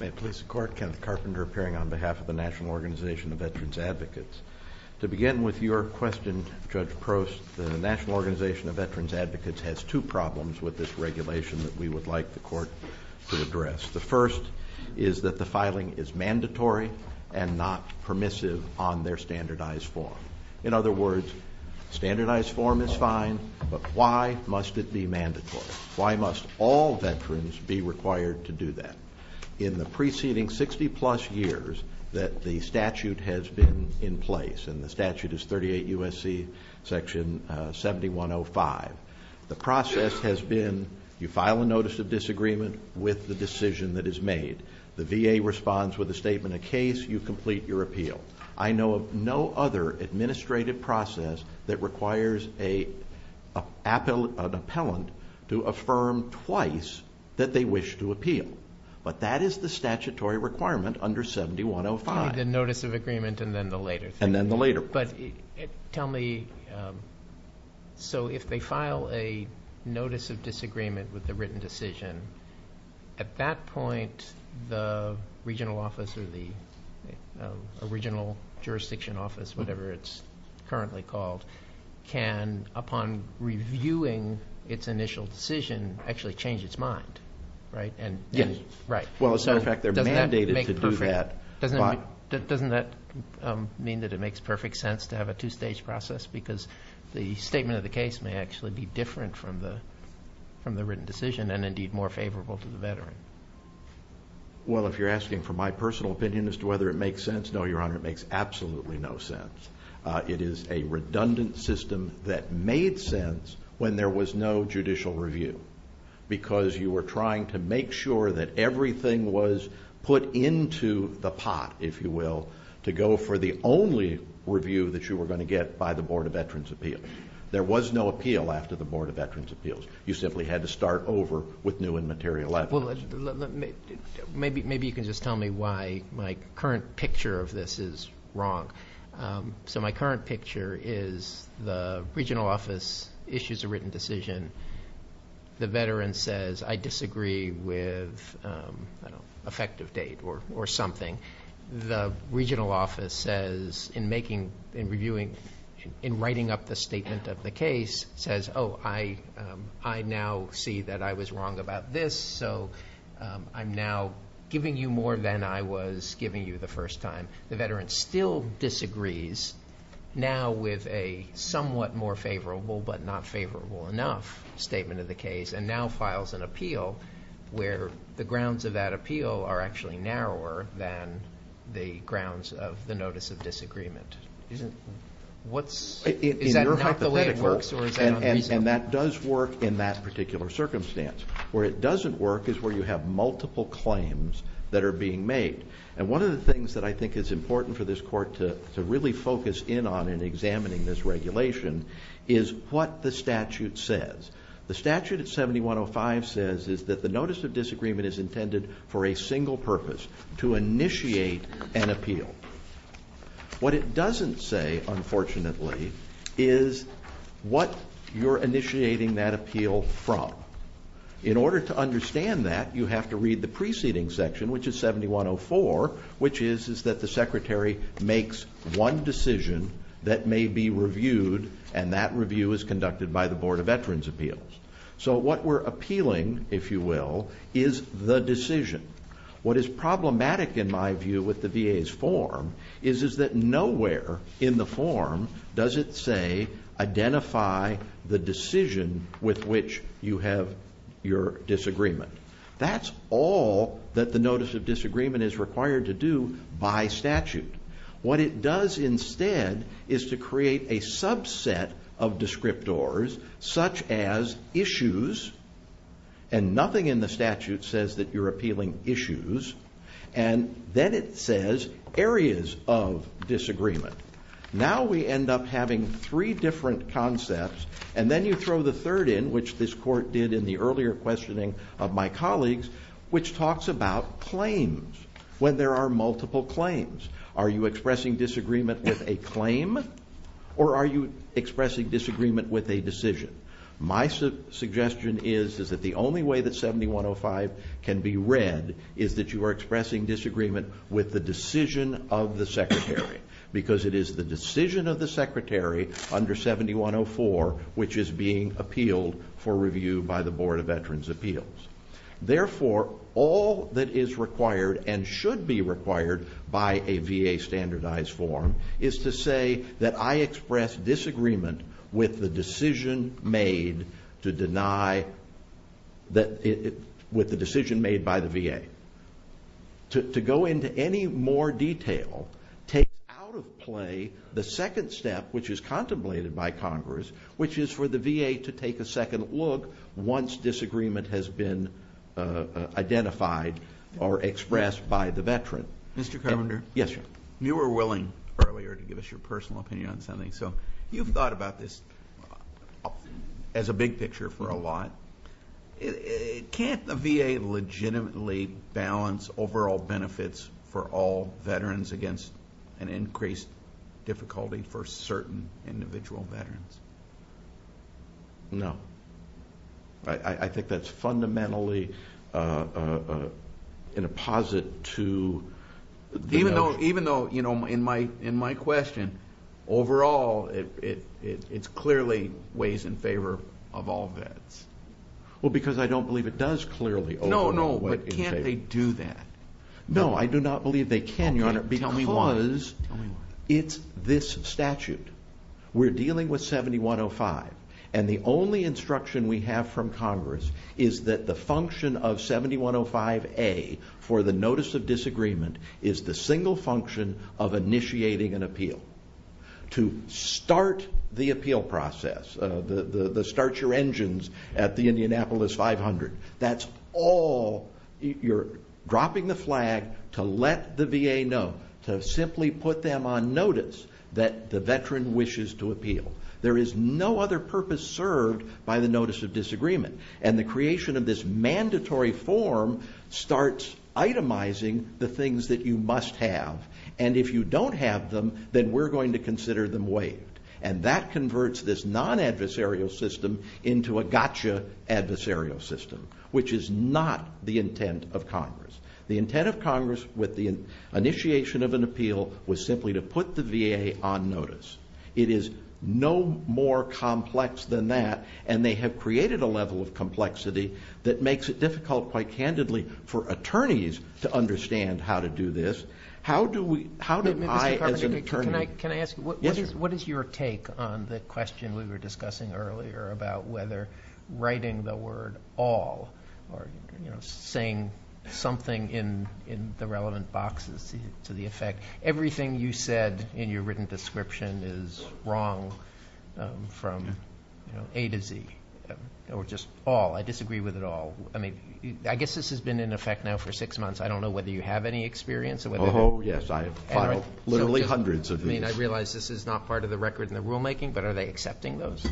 May it please the Court, Kenneth Carpenter appearing on behalf of the National Organization of Veterans Advocates. To begin with your question, Judge Prost, the National Organization of Veterans Advocates has two problems with this regulation that we would like the Court to address. The first is that the filing is mandatory and not permissive on their standardized form. In other words, standardized form is fine, but why must it be mandatory? Why must all veterans be required to do that? In the preceding 60-plus years that the statute has been in place, and the statute is 38 U.S.C. Section 7105, the process has been you file a Notice of Disagreement with the decision that is made. The VA responds with a statement, a case, you complete your appeal. I know of no other administrative process that requires an appellant to affirm twice that they wish to appeal. But that is the statutory requirement under 7105. The Notice of Agreement and then the later. And then the later. But tell me, so if they file a Notice of Disagreement with the written decision, at that point the Regional Office or the Regional Jurisdiction Office, whatever it's currently called, can, upon reviewing its initial decision, actually change its mind, right? Yes. Right. Well, as a matter of fact, they're mandated to do that. Doesn't that mean that it makes perfect sense to have a two-stage process? Because the statement of the case may actually be different from the written decision and, indeed, more favorable for the veteran. Well, if you're asking for my personal opinion as to whether it makes sense, no, Your Honor, it makes absolutely no sense. It is a redundant system that made sense when there was no judicial review because you were trying to make sure that everything was put into the pot, if you will, to go for the only review that you were going to get by the Board of Veterans' Appeals. There was no appeal after the Board of Veterans' Appeals. You simply had to start over with new and material evidence. Maybe you can just tell me why my current picture of this is wrong. So my current picture is the regional office issues a written decision. The veteran says, I disagree with effective date or something. The regional office says, in writing up the statement of the case, says, oh, I now see that I was wrong about this, so I'm now giving you more than I was giving you the first time. The veteran still disagrees now with a somewhat more favorable but not favorable enough statement of the case and now files an appeal where the grounds of that appeal are actually narrower than the grounds of the notice of disagreement. Is that not the way it works? And that does work in that particular circumstance. Where it doesn't work is where you have multiple claims that are being made. And one of the things that I think is important for this court to really focus in on in examining this regulation is what the statute says. The statute at 7105 says that the notice of disagreement is intended for a single purpose, to initiate an appeal. What it doesn't say, unfortunately, is what you're initiating that appeal from. In order to understand that, you have to read the preceding section, which is 7104, which is that the secretary makes one decision that may be reviewed, and that review is conducted by the Board of Veterans' Appeals. So what we're appealing, if you will, is the decision. What is problematic, in my view, with the VA's form is that nowhere in the form does it say, identify the decision with which you have your disagreement. That's all that the notice of disagreement is required to do by statute. What it does instead is to create a subset of descriptors, such as issues, and nothing in the statute says that you're appealing issues, and then it says areas of disagreement. Now we end up having three different concepts, and then you throw the third in, which this court did in the earlier questioning of my colleagues, which talks about claims, when there are multiple claims. Are you expressing disagreement with a claim, or are you expressing disagreement with a decision? My suggestion is that the only way that 7105 can be read is that you are expressing disagreement with the decision of the Secretary, because it is the decision of the Secretary under 7104, which is being appealed for review by the Board of Veterans' Appeals. Therefore, all that is required and should be required by a VA standardized form is to say that I express disagreement with the decision made by the VA. To go into any more detail, take out of play the second step, which is contemplated by Congress, which is for the VA to take a second look once disagreement has been identified or expressed by the veteran. Mr. Commander? Yes, sir. You were willing earlier to give us your personal opinion on something, so you've thought about this as a big picture for a lot. Can't the VA legitimately balance overall benefits for all veterans against an increased difficulty for certain individual veterans? No. I think that's fundamentally an apposite to the other. Even though in my question, overall, it clearly weighs in favor of all vets. Well, because I don't believe it does clearly. No, no, but can't they do that? No, I do not believe they can, Your Honor, because it's this statute. We're dealing with 7105, and the only instruction we have from Congress is that the function of 7105A for the notice of disagreement is the single function of initiating an appeal, to start the appeal process, the start your engines at the Indianapolis 500. That's all. You're dropping the flag to let the VA know, to simply put them on notice that the veteran wishes to appeal. There is no other purpose served by the notice of disagreement, and the creation of this mandatory form starts itemizing the things that you must have, and if you don't have them, then we're going to consider them waived, and that converts this non-adversarial system into a gotcha adversarial system, which is not the intent of Congress. The intent of Congress with the initiation of an appeal was simply to put the VA on notice. It is no more complex than that, and they have created a level of complexity that makes it difficult, quite candidly, for attorneys to understand how to do this. How do I, as an attorney... Can I ask you, what is your take on the question we were discussing earlier about whether writing the word all or saying something in the relevant boxes to the effect, everything you said in your written description is wrong from A to Z, or just all. I disagree with it all. I guess this has been in effect now for six months. I don't know whether you have any experience. Oh, yes. I have literally hundreds of these. I realize this is not part of the record in the rulemaking, but are they accepting those?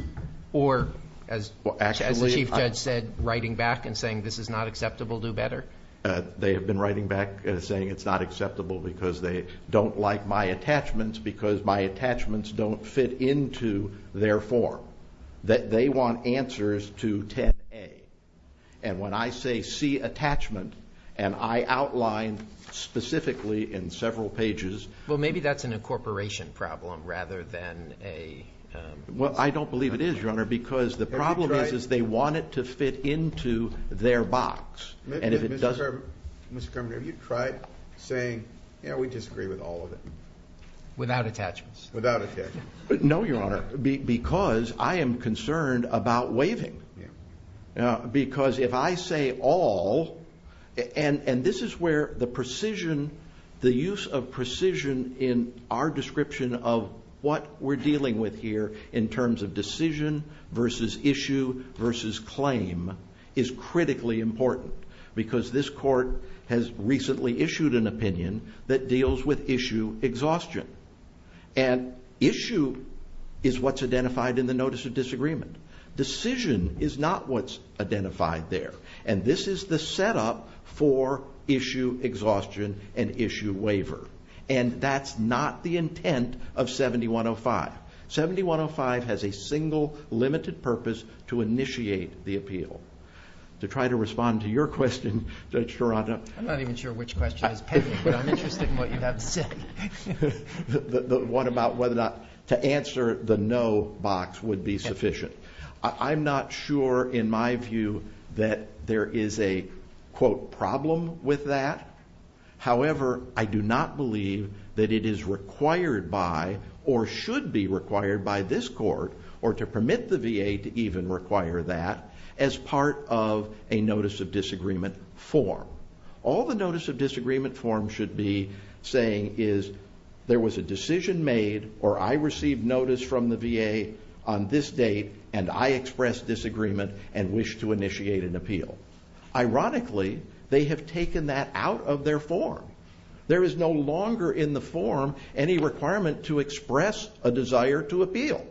Or, as the Chief Judge said, writing back and saying this is not acceptable, do better? They have been writing back and saying it's not acceptable because they don't like my attachments because my attachments don't fit into their form, that they want answers to 10A. And when I say C, attachment, and I outlined specifically in several pages... Well, maybe that's an incorporation problem rather than a... Well, I don't believe it is, Your Honor, because the problem is they want it to fit into their box. And if it doesn't... Mr. Kramer, have you tried saying, you know, we disagree with all of it? Without attachments. Without attachments. No, Your Honor, because I am concerned about waiving. Because if I say all, and this is where the precision, the use of precision in our description of what we're dealing with here in terms of decision versus issue versus claim is critically important. Because this Court has recently issued an opinion that deals with issue exhaustion. And issue is what's identified in the Notice of Disagreement. Decision is not what's identified there. And this is the setup for issue exhaustion and issue waiver. And that's not the intent of 7105. 7105 has a single limited purpose to initiate the appeal. To try to respond to your question, Your Honor... I'm not even sure which question is pending, but I'm interested in what you have to say. The one about whether or not to answer the no box would be sufficient. I'm not sure in my view that there is a, quote, problem with that. However, I do not believe that it is required by or should be required by this Court, or to permit the VA to even require that, as part of a Notice of Disagreement form. All the Notice of Disagreement forms should be saying is, there was a decision made or I received notice from the VA on this date and I expressed disagreement and wish to initiate an appeal. Ironically, they have taken that out of their form. There is no longer in the form any requirement to express a desire to appeal.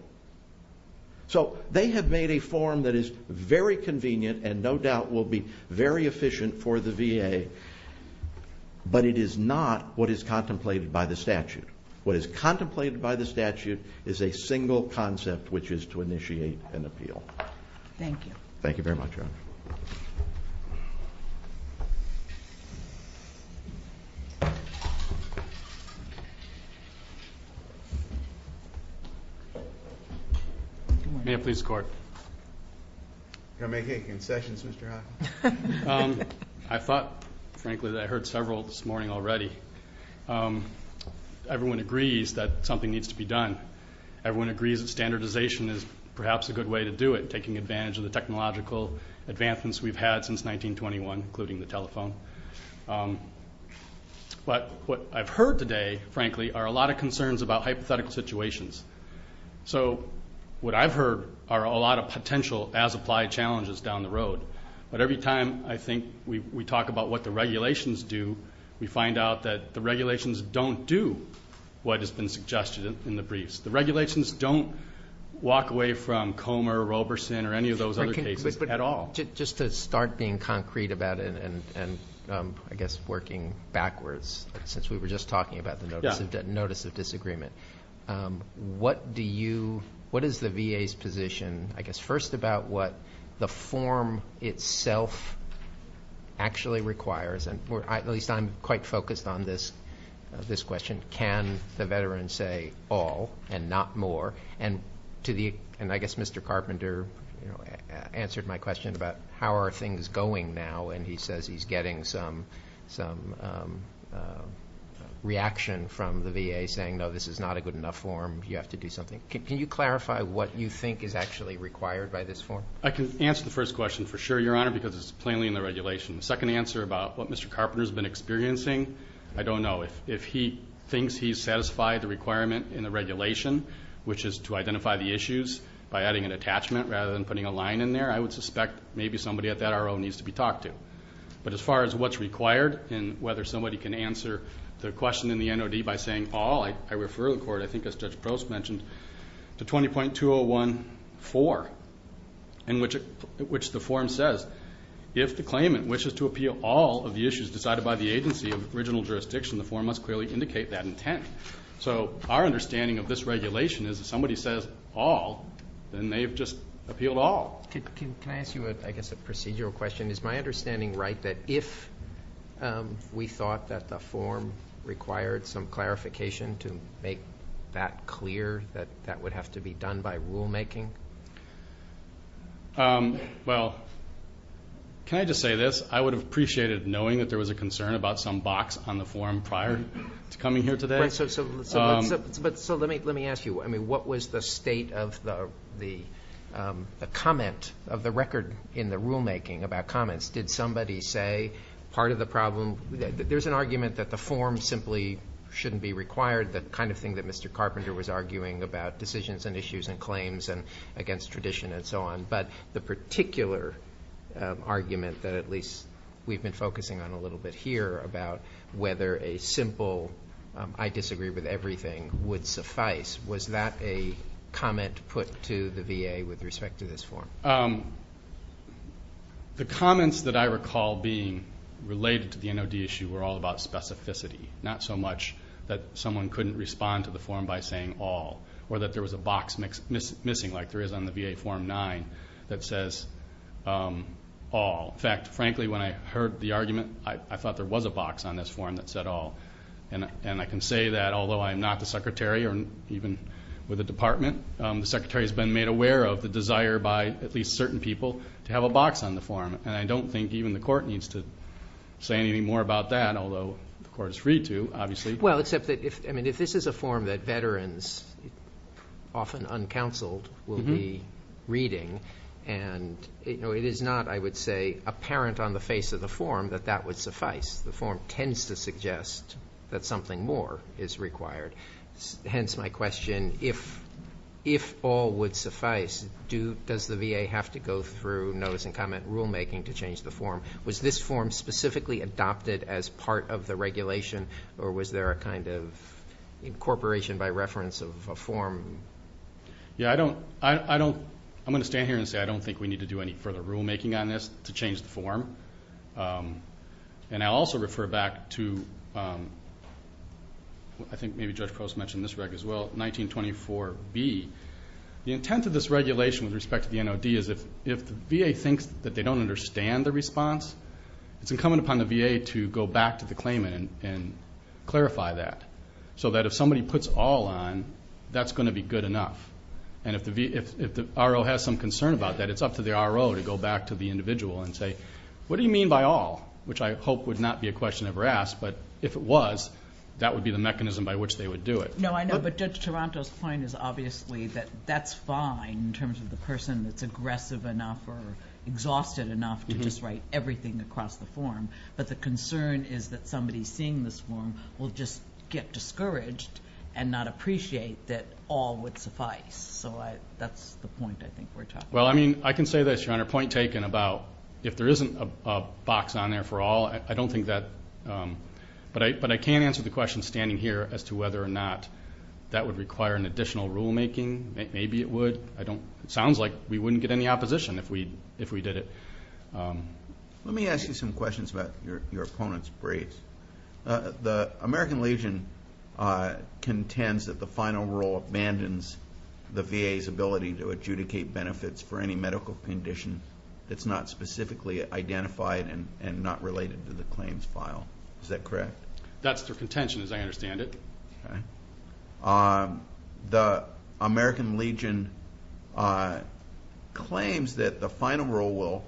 So they have made a form that is very convenient and no doubt will be very efficient for the VA, but it is not what is contemplated by the statute. What is contemplated by the statute is a single concept, which is to initiate an appeal. Thank you. Thank you very much. VA Police Corp. Do you want to make any concessions, Mr. Hawkins? I thought, frankly, that I heard several this morning already. Everyone agrees that something needs to be done. Everyone agrees that standardization is perhaps a good way to do it, taking advantage of the technological advancements we've had since 1921, including the telephone. But what I've heard today, frankly, are a lot of concerns about hypothetical situations. So what I've heard are a lot of potential as-applied challenges down the road. But every time I think we talk about what the regulations do, we find out that the regulations don't do what has been suggested in the briefs. The regulations don't walk away from Comer, Roberson, or any of those other cases at all. Just to start being concrete about it and, I guess, working backwards, since we were just talking about the Notice of Disagreement, what is the VA's position, I guess, first about what the form itself actually requires? At least I'm quite focused on this question. Can the veteran say all and not more? And I guess Mr. Carpenter answered my question about how are things going now, and he says he's getting some reaction from the VA saying, no, this is not a good enough form. You have to do something. Can you clarify what you think is actually required by this form? I can answer the first question for sure, Your Honor, because it's plainly in the regulation. The second answer about what Mr. Carpenter has been experiencing, I don't know. But if he thinks he's satisfied the requirement in the regulation, which is to identify the issues by adding an attachment rather than putting a line in there, I would suspect maybe somebody at that RO needs to be talked to. But as far as what's required and whether somebody can answer the question in the NOD by saying all, I refer the Court, I think as Judge Prost mentioned, to 20.201.4, in which the form says, if the claimant wishes to appeal all of the issues decided by the agency of original jurisdiction, the form must clearly indicate that intent. So our understanding of this regulation is if somebody says all, then they have just appealed all. Can I ask you, I guess, a procedural question? Is my understanding right that if we thought that the form required some clarification to make that clear that that would have to be done by rulemaking? Well, can I just say this? I would have appreciated knowing that there was a concern about some box on the form prior to coming here today. So let me ask you, what was the state of the comment of the record in the rulemaking about comments? Did somebody say part of the problem, there's an argument that the form simply shouldn't be required, the kind of thing that Mr. Carpenter was arguing about decisions and issues and claims and against tradition and so on, but the particular argument that at least we've been focusing on a little bit here about whether a simple I disagree with everything would suffice, was that a comment put to the VA with respect to this form? The comments that I recall being related to the NOD issue were all about specificity, not so much that someone couldn't respond to the form by saying all or that there was a box missing like there is on the VA Form 9 that says all. In fact, frankly, when I heard the argument, I thought there was a box on this form that said all, and I can say that although I'm not the secretary or even with the department, the secretary has been made aware of the desire by at least certain people to have a box on the form, and I don't think even the court needs to say any more about that, although the court is free to, obviously. Well, except that if this is a form that veterans, often uncounseled, will be reading, and it is not, I would say, apparent on the face of the form that that would suffice. The form tends to suggest that something more is required. Hence my question, if all would suffice, does the VA have to go through notice and comment rulemaking to change the form? Was this form specifically adopted as part of the regulation, or was there a kind of incorporation by reference of a form? Yeah, I'm going to stand here and say I don't think we need to do any further rulemaking on this to change the form, and I'll also refer back to, I think maybe Judge Coase mentioned this as well, 1924B. The intent of this regulation with respect to the NOD is that if the VA thinks that they don't understand the response, it's incumbent upon the VA to go back to the claimant and clarify that, so that if somebody puts all on, that's going to be good enough. And if the RO has some concern about that, it's up to the RO to go back to the individual and say, what do you mean by all, which I hope would not be a question ever asked, but if it was, that would be the mechanism by which they would do it. No, I know, but Judge Taranto's point is obviously that that's fine in terms of the person that's aggressive enough or exhausted enough to just write everything across the form, but the concern is that somebody seeing this form will just get discouraged and not appreciate that all would suffice. So that's the point, I think, we're talking about. Well, I mean, I can say this, Your Honor, point taken about if there isn't a box on there for all, but I can't answer the question standing here as to whether or not that would require an additional rulemaking. Maybe it would. It sounds like we wouldn't get any opposition if we did it. Let me ask you some questions about your opponent's braids. The American Legion contends that the final rule abandons the VA's ability to adjudicate benefits for any medical condition that's not specifically identified and not related to the claims file. Is that correct? That's their contention as I understand it. The American Legion claims that the final rule will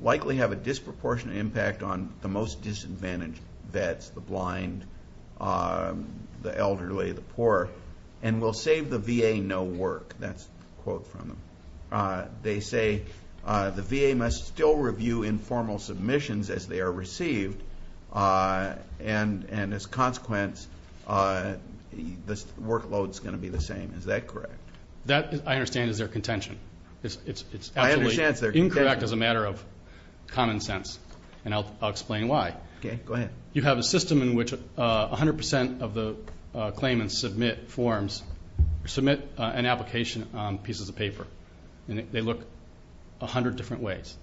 likely have a disproportionate impact on the most disadvantaged vets, the blind, the elderly, the poor, and will save the VA no work. That's a quote from them. They say the VA must still review informal submissions as they are received, and as a consequence, the workload is going to be the same. Is that correct? That, I understand, is their contention. It's absolutely incorrect as a matter of common sense, and I'll explain why. Okay, go ahead. You have a system in which 100% of the claimants submit forms, submit an application on pieces of paper, and they look 100 different ways.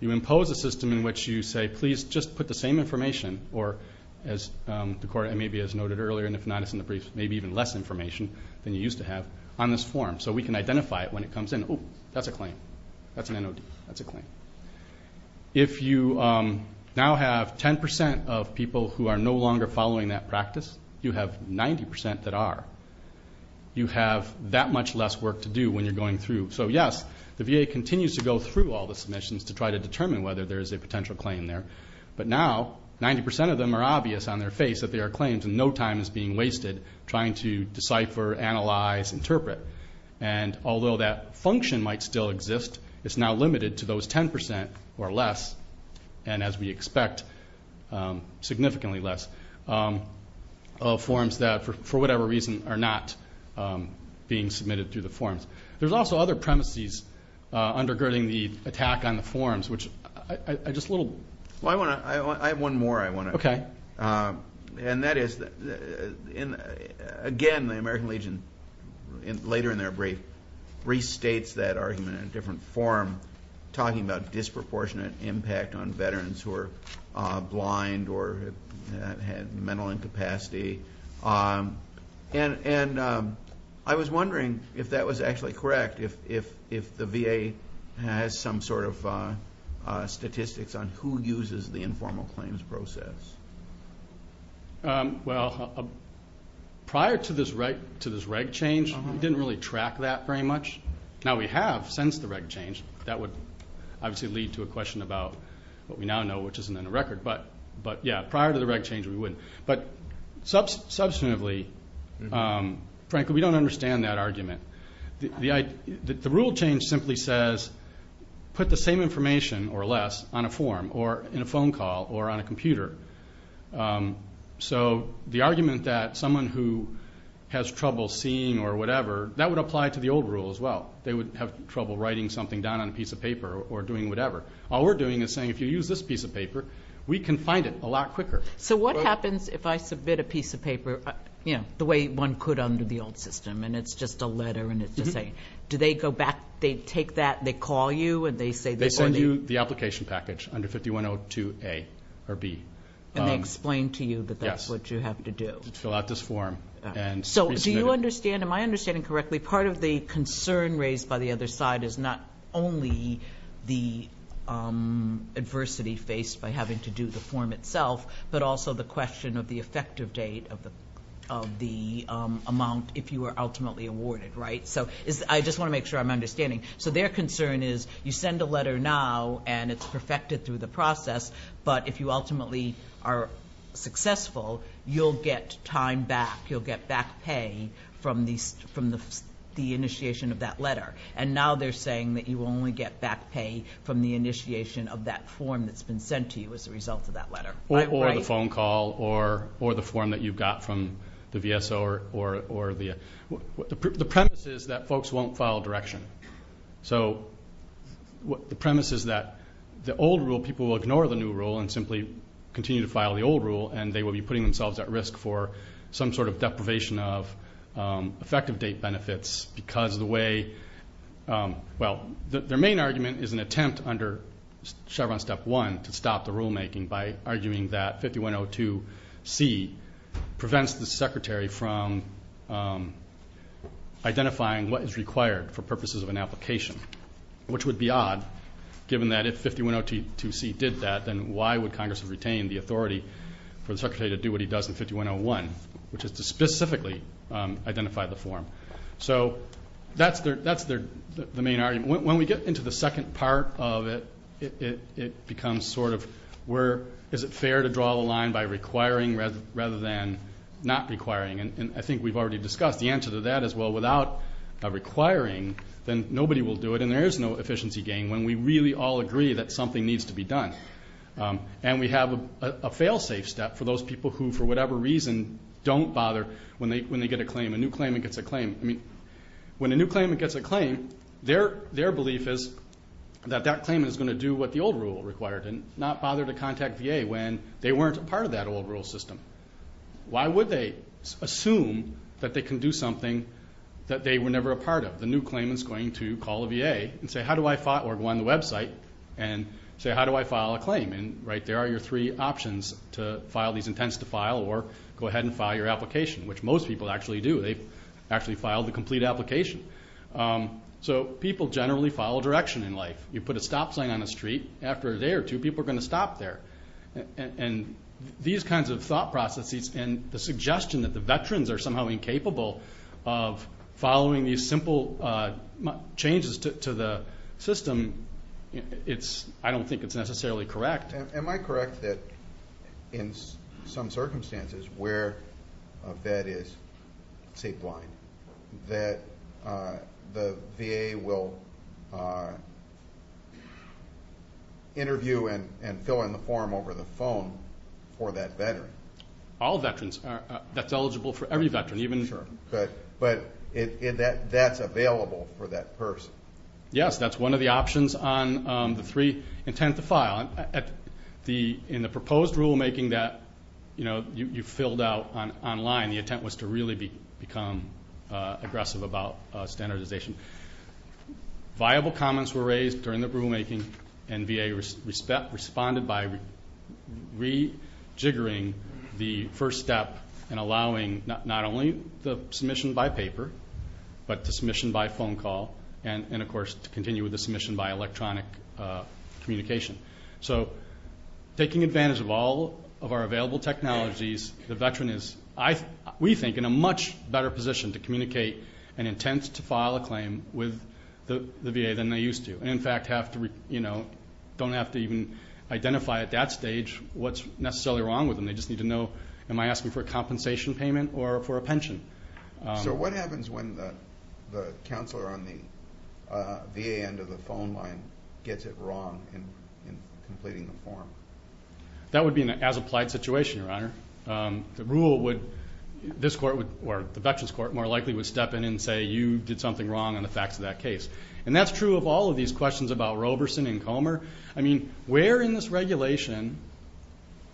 You impose a system in which you say, please just put the same information, or as the court maybe has noted earlier, and if not, it's in the brief, maybe even less information than you used to have on this form so we can identify it when it comes in. Oh, that's a claim. That's an NOD. That's a claim. If you now have 10% of people who are no longer following that practice, you have 90% that are. You have that much less work to do when you're going through. So, yes, the VA continues to go through all the submissions to try to determine whether there's a potential claim there, but now 90% of them are obvious on their face that there are claims and no time is being wasted trying to decipher, analyze, interpret. And although that function might still exist, it's now limited to those 10% or less, and as we expect, significantly less, of forms that, for whatever reason, are not being submitted through the forms. There's also other premises undergirding the attack on the forms, which I just a little. Well, I have one more I want to add. Okay. And that is, again, the American Legion, later in their brief, restates that argument in a different form, talking about disproportionate impact on veterans who are blind or have mental incapacity. And I was wondering if that was actually correct, if the VA has some sort of statistics on who uses the informal claims process. Well, prior to this reg change, we didn't really track that very much. Now, we have since the reg change. That would obviously lead to a question about what we now know, which isn't on the record. But, yes, prior to the reg change, we would. But, subsequently, frankly, we don't understand that argument. The rule change simply says put the same information or less on a form or in a phone call or on a computer. So the argument that someone who has trouble seeing or whatever, that would apply to the old rule as well. They would have trouble writing something down on a piece of paper or doing whatever. All we're doing is saying, if you use this piece of paper, we can find it a lot quicker. So what happens if I submit a piece of paper, you know, the way one could under the old system, and it's just a letter and it's the same? Do they go back, they take that and they call you and they say this is on you? They send you the application package under 5102A or B. And they explain to you that that's what you have to do. Fill out this form. So do you understand, am I understanding correctly, part of the concern raised by the other side is not only the adversity faced by having to do the form itself, but also the question of the effective date of the amount if you are ultimately awarded, right? So I just want to make sure I'm understanding. So their concern is you send a letter now and it's perfected through the process, but if you ultimately are successful, you'll get time back, you'll get back pay from the initiation of that letter. And now they're saying that you will only get back pay from the initiation of that form that's been sent to you as a result of that letter. Or the phone call or the form that you've got from the VSO. The premise is that folks won't follow direction. So the premise is that the old rule, people will ignore the new rule and simply continue to file the old rule, and they will be putting themselves at risk for some sort of deprivation of effective date benefits because of the way, well, their main argument is an attempt under Chevron step one to stop the rulemaking by arguing that 5102C prevents the secretary from identifying what is required for purposes of an application, which would be odd given that if 5102C did that, then why would Congress retain the authority for the secretary to do what he does in 5101, which is to specifically identify the form. So that's the main argument. When we get into the second part of it, it becomes sort of where is it fair to draw the line by requiring rather than not requiring. And I think we've already discussed the answer to that as well. Without a requiring, then nobody will do it, and there is no efficiency gain when we really all agree that something needs to be done. And we have a fail-safe step for those people who, for whatever reason, don't bother when they get a claim, a new claimant gets a claim. I mean, when a new claimant gets a claim, their belief is that that claimant is going to do what the old rule required and not bother to contact VA when they weren't a part of that old rule system. Why would they assume that they can do something that they were never a part of? The new claimant is going to call the VA or go on the website and say, how do I file a claim? And there are your three options to file these intents to file or go ahead and file your application, which most people actually do. They actually file the complete application. So people generally follow direction in life. You put a stop sign on the street, after a day or two, people are going to stop there. And these kinds of thought processes and the suggestion that the veterans are somehow incapable of following these simple changes to the system, I don't think it's necessarily correct. Am I correct that in some circumstances where a vet is, say, blind, that the VA will interview and fill in the form over the phone for that veteran? All veterans. That's eligible for every veteran. But that's available for that person. Yes, that's one of the options on the three intents to file. In the proposed rulemaking that you filled out online, the intent was to really become aggressive about standardization. Viable comments were raised during the rulemaking and VA responded by rejiggering the first step and allowing not only the submission by paper, but the submission by phone call and, of course, to continue with the submission by electronic communication. So taking advantage of all of our available technologies, the veteran is, we think, in a much better position to communicate an intent to file a claim with the VA than they used to. In fact, don't have to even identify at that stage what's necessarily wrong with them. They just need to know, am I asking for a compensation payment or for a pension? So what happens when the counselor on the VA end of the phone line gets it wrong in completing the form? That would be an as-applied situation, Your Honor. The rule would, this court would, or the Dutchess Court more likely would step in and say, you did something wrong in the facts of that case. And that's true of all of these questions about Roberson and Comer. I mean, where in this regulation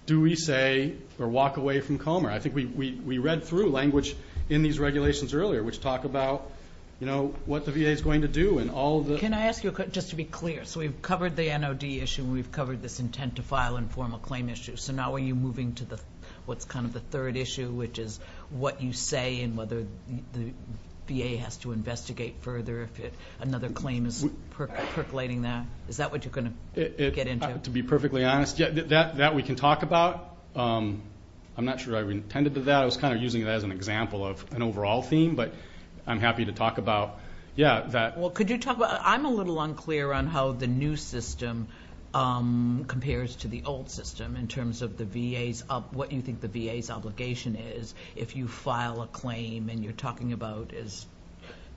do we say or walk away from Comer? I think we read through language in these regulations earlier, which talk about, you know, what the VA is going to do and all of the- Can I ask you, just to be clear, so we've covered the NOD issue and we've covered this intent to file informal claim issue. So now are you moving to what's kind of the third issue, which is what you say and whether the VA has to investigate further if another claim is percolating that? Is that what you're going to get into? To be perfectly honest, that we can talk about. I'm not sure I intended to do that. I was kind of using that as an example of an overall theme, but I'm happy to talk about that. Well, could you talk about- I'm a little unclear on how the new system compares to the old system in terms of the VA's- what you think the VA's obligation is if you file a claim and you're talking about, as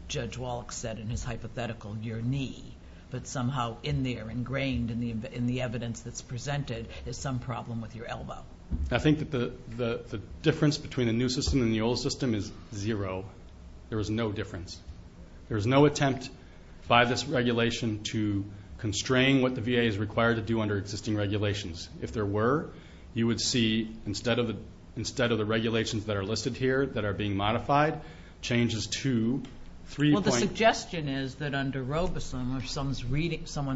Judge Wallach said in his hypothetical, your knee. But somehow in there, ingrained in the evidence that's presented is some problem with your elbow. I think the difference between the new system and the old system is zero. There is no difference. There is no attempt by this regulation to constrain what the VA is required to do under existing regulations. If there were, you would see, instead of the regulations that are listed here that are being modified, changes to three- or someone's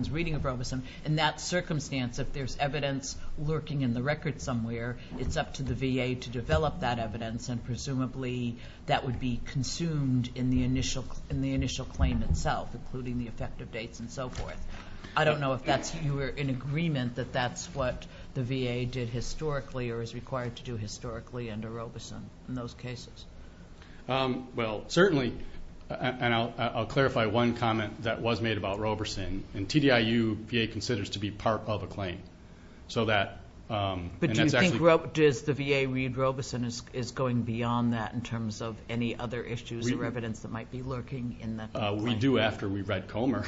reading of Robeson, in that circumstance, if there's evidence lurking in the record somewhere, it's up to the VA to develop that evidence, and presumably that would be consumed in the initial claim itself, including the effective dates and so forth. I don't know if you were in agreement that that's what the VA did historically or is required to do historically under Robeson in those cases. Well, certainly, and I'll clarify one comment that was made about Robeson. In TDIU, VA considers to be part of a claim. But do you think the VA read Robeson as going beyond that in terms of any other issues or evidence that might be lurking? We do after we read Comer.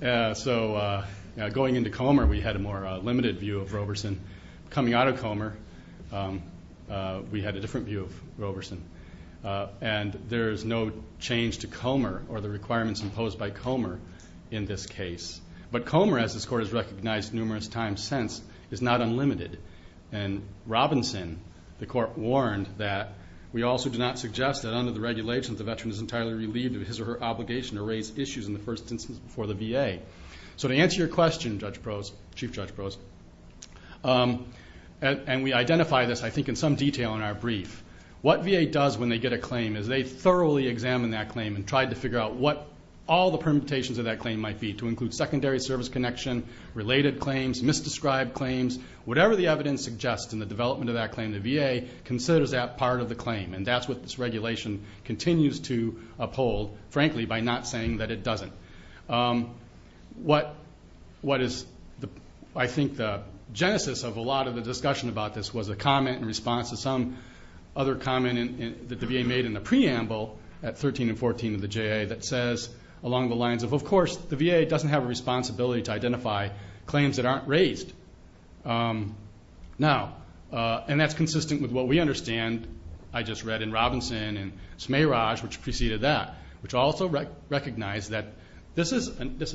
So going into Comer, we had a more limited view of Robeson. Coming out of Comer, we had a different view of Robeson. And there's no change to Comer or the requirements imposed by Comer in this case. But Comer, as this Court has recognized numerous times since, is not unlimited. And Robinson, the Court warned that we also do not suggest that under the regulations, a veteran is entirely relieved of his or her obligation to raise issues in the first instance before the VA. So to answer your question, Chief Judge Brose, and we identify this, I think, in some detail in our brief, what VA does when they get a claim is they thoroughly examine that claim and try to figure out what all the permutations of that claim might be to include secondary service connection, related claims, misdescribed claims, whatever the evidence suggests in the development of that claim, the VA considers that part of the claim. And that's what this regulation continues to uphold, frankly, by not saying that it doesn't. What is, I think, the genesis of a lot of the discussion about this was a comment in response to some other comment that the VA made in the preamble at 13 and 14 of the JA that says along the lines of, of course, the VA doesn't have a responsibility to identify claims that aren't raised. Now, and that's consistent with what we understand. I just read in Robinson and Smeiraj, which preceded that, which also recognized that this is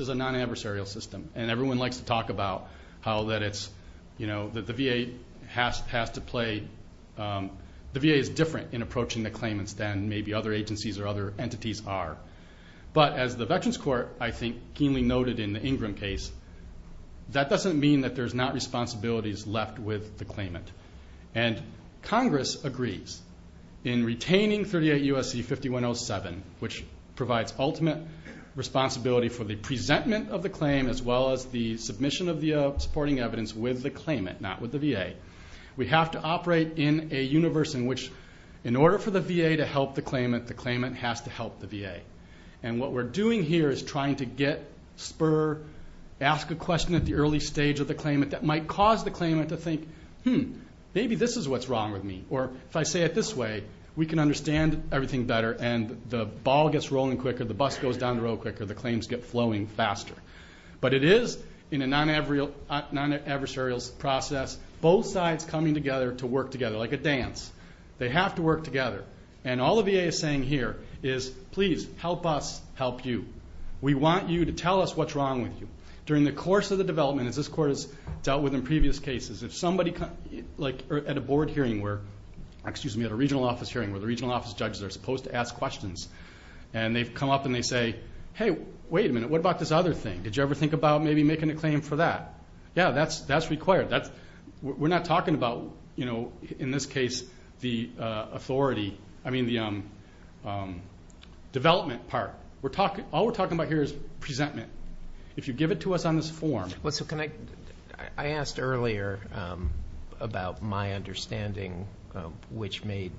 a non-adversarial system. And everyone likes to talk about how that it's, you know, that the VA has to play, the VA is different in approaching the claimants than maybe other agencies or other entities are. But as the Veterans Court, I think, keenly noted in the Ingram case, that doesn't mean that there's not responsibilities left with the claimant. And Congress agrees in retaining 38 U.S.C. 5107, which provides ultimate responsibility for the presentment of the claim as well as the submission of the supporting evidence with the claimant, not with the VA. We have to operate in a universe in which in order for the VA to help the claimant, the claimant has to help the VA. And what we're doing here is trying to get, spur, ask a question at the early stage of the claimant that might cause the claimant to think, hmm, maybe this is what's wrong with me. Or if I say it this way, we can understand everything better and the ball gets rolling quicker, the bus goes down the road quicker, the claims get flowing faster. But it is in a non-adversarial process, both sides coming together to work together like a dance. They have to work together. And all the VA is saying here is, please, help us help you. We want you to tell us what's wrong with you. During the course of the development, as this court has dealt with in previous cases, if somebody, like at a board hearing where, excuse me, at a regional office hearing where the regional office judges are supposed to ask questions, and they come up and they say, hey, wait a minute, what about this other thing? Did you ever think about maybe making a claim for that? Yeah, that's required. We're not talking about, you know, in this case, the authority, I mean the development part. All we're talking about here is presentment. If you give it to us on this form. I asked earlier about my understanding, which made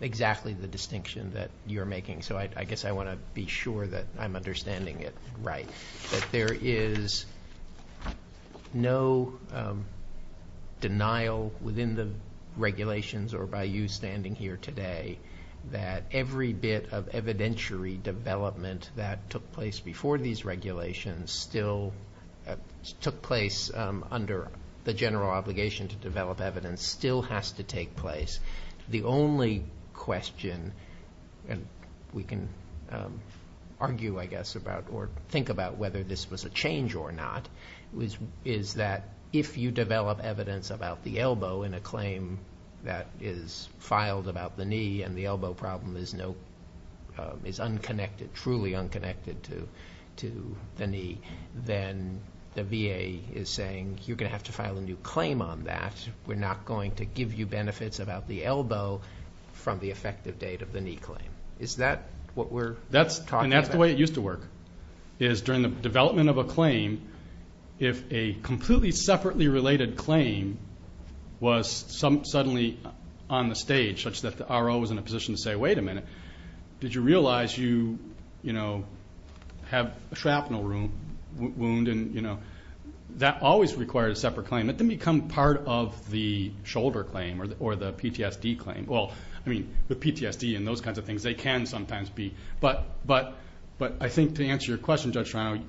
exactly the distinction that you're making. So I guess I want to be sure that I'm understanding it right. That there is no denial within the regulations or by you standing here today that every bit of evidentiary development that took place before these regulations still took place under the general obligation to develop evidence still has to take place. The only question, and we can argue, I guess, or think about whether this was a change or not, is that if you develop evidence about the elbow in a claim that is filed about the knee and the elbow problem is truly unconnected to the knee, then the VA is saying you're going to have to file a new claim on that. We're not going to give you benefits about the elbow from the effective date of the knee claim. Is that what we're talking about? And that's the way it used to work, is during the development of a claim, if a completely separately related claim was suddenly on the stage such that the RO was in a position to say, wait a minute, did you realize you, you know, have a shrapnel wound and, you know, that always requires a separate claim. It didn't become part of the shoulder claim or the PTSD claim. Well, I mean, the PTSD and those kinds of things, they can sometimes be, but I think to answer your question, Judge Farnley,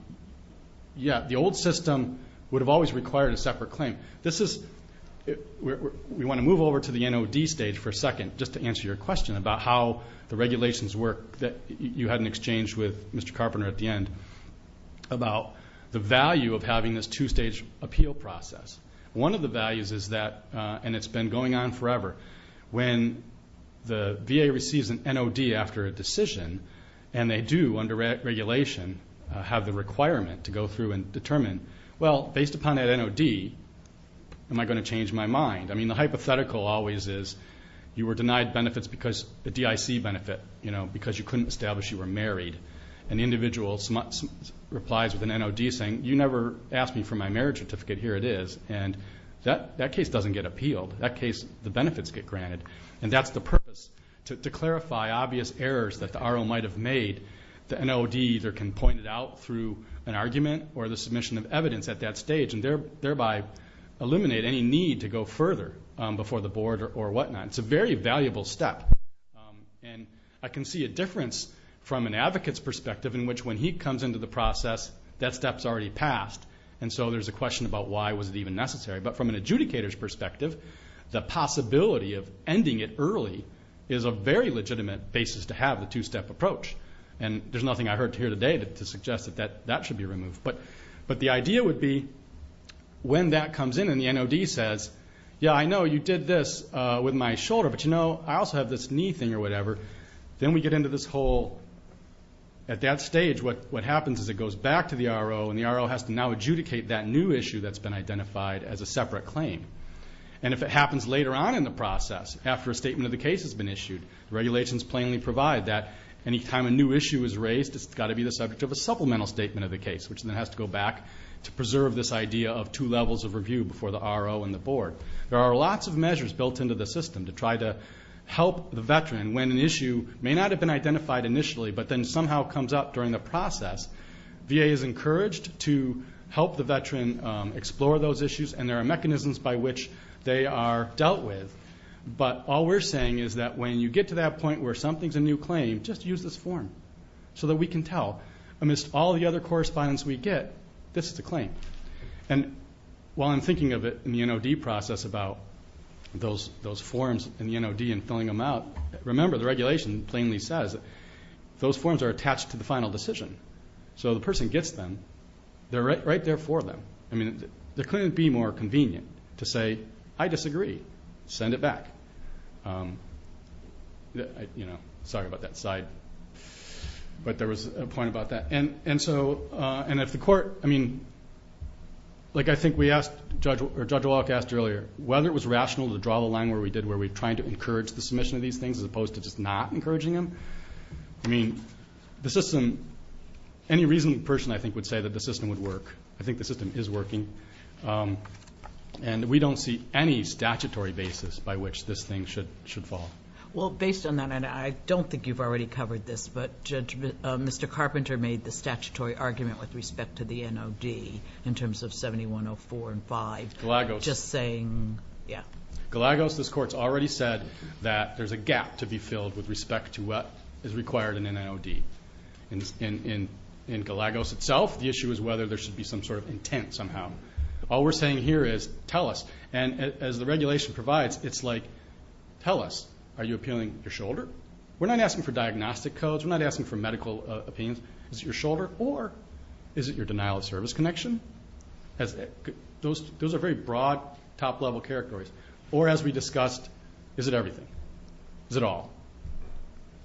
yeah, the old system would have always required a separate claim. This is, we want to move over to the NOD stage for a second just to answer your question about how the regulations work that you had in exchange with Mr. Carpenter at the end about the value of having this two-stage appeal process. One of the values is that, and it's been going on forever, when the VA receives an NOD after a decision and they do under regulation have the requirement to go through and determine, well, based upon that NOD, am I going to change my mind? I mean, the hypothetical always is you were denied benefits because the DIC benefit, you know, and the individual replies with an NOD saying, you never asked me for my marriage certificate. Here it is. And that case doesn't get appealed. That case, the benefits get granted. And that's the purpose, to clarify obvious errors that the RO might have made. The NOD either can point it out through an argument or the submission of evidence at that stage and thereby eliminate any need to go further before the board or whatnot. It's a very valuable step. And I can see a difference from an advocate's perspective in which when he comes into the process, that step's already passed, and so there's a question about why was it even necessary. But from an adjudicator's perspective, the possibility of ending it early is a very legitimate basis to have the two-step approach. And there's nothing I heard here today to suggest that that should be removed. But the idea would be when that comes in and the NOD says, yeah, I know you did this with my shoulder, but, you know, I also have this knee thing or whatever. Then we get into this whole, at that stage, what happens is it goes back to the RO, and the RO has to now adjudicate that new issue that's been identified as a separate claim. And if it happens later on in the process, after a statement of the case has been issued, regulations plainly provide that. Any time a new issue is raised, it's got to be the subject of a supplemental statement of the case, which then has to go back to preserve this idea of two levels of review before the RO and the board. There are lots of measures built into the system to try to help the veteran when an issue may not have been identified initially but then somehow comes up during the process. VA is encouraged to help the veteran explore those issues, and there are mechanisms by which they are dealt with. But all we're saying is that when you get to that point where something's a new claim, just use this form so that we can tell, amidst all the other correspondence we get, this is the claim. And while I'm thinking of it in the NOD process about those forms in the NOD and filling them out, remember the regulation plainly says those forms are attached to the final decision. So the person gets them. They're right there for them. I mean, it couldn't be more convenient to say, I disagree. Send it back. You know, sorry about that side, but there was a point about that. And so at the court, I mean, like I think we asked, or Judge Wallach asked earlier, whether it was rational to draw the line where we did, where we tried to encourage the submission of these things as opposed to just not encouraging them. I mean, the system, any reasonable person I think would say that the system would work. I think the system is working. And we don't see any statutory basis by which this thing should fall. Well, based on that, and I don't think you've already covered this, but Mr. Carpenter made the statutory argument with respect to the NOD in terms of 7104 and 5. Galagos. Just saying, yeah. Galagos, this Court's already said that there's a gap to be filled with respect to what is required in an NOD. In Galagos itself, the issue is whether there should be some sort of intent somehow. All we're saying here is tell us. And as the regulation provides, it's like, tell us, are you appealing your shoulder? We're not asking for diagnostic codes. We're not asking for medical opinions. Is it your shoulder? Or is it your denial of service connection? Those are very broad, top-level characteristics. Or, as we discussed, is it everything? Is it all?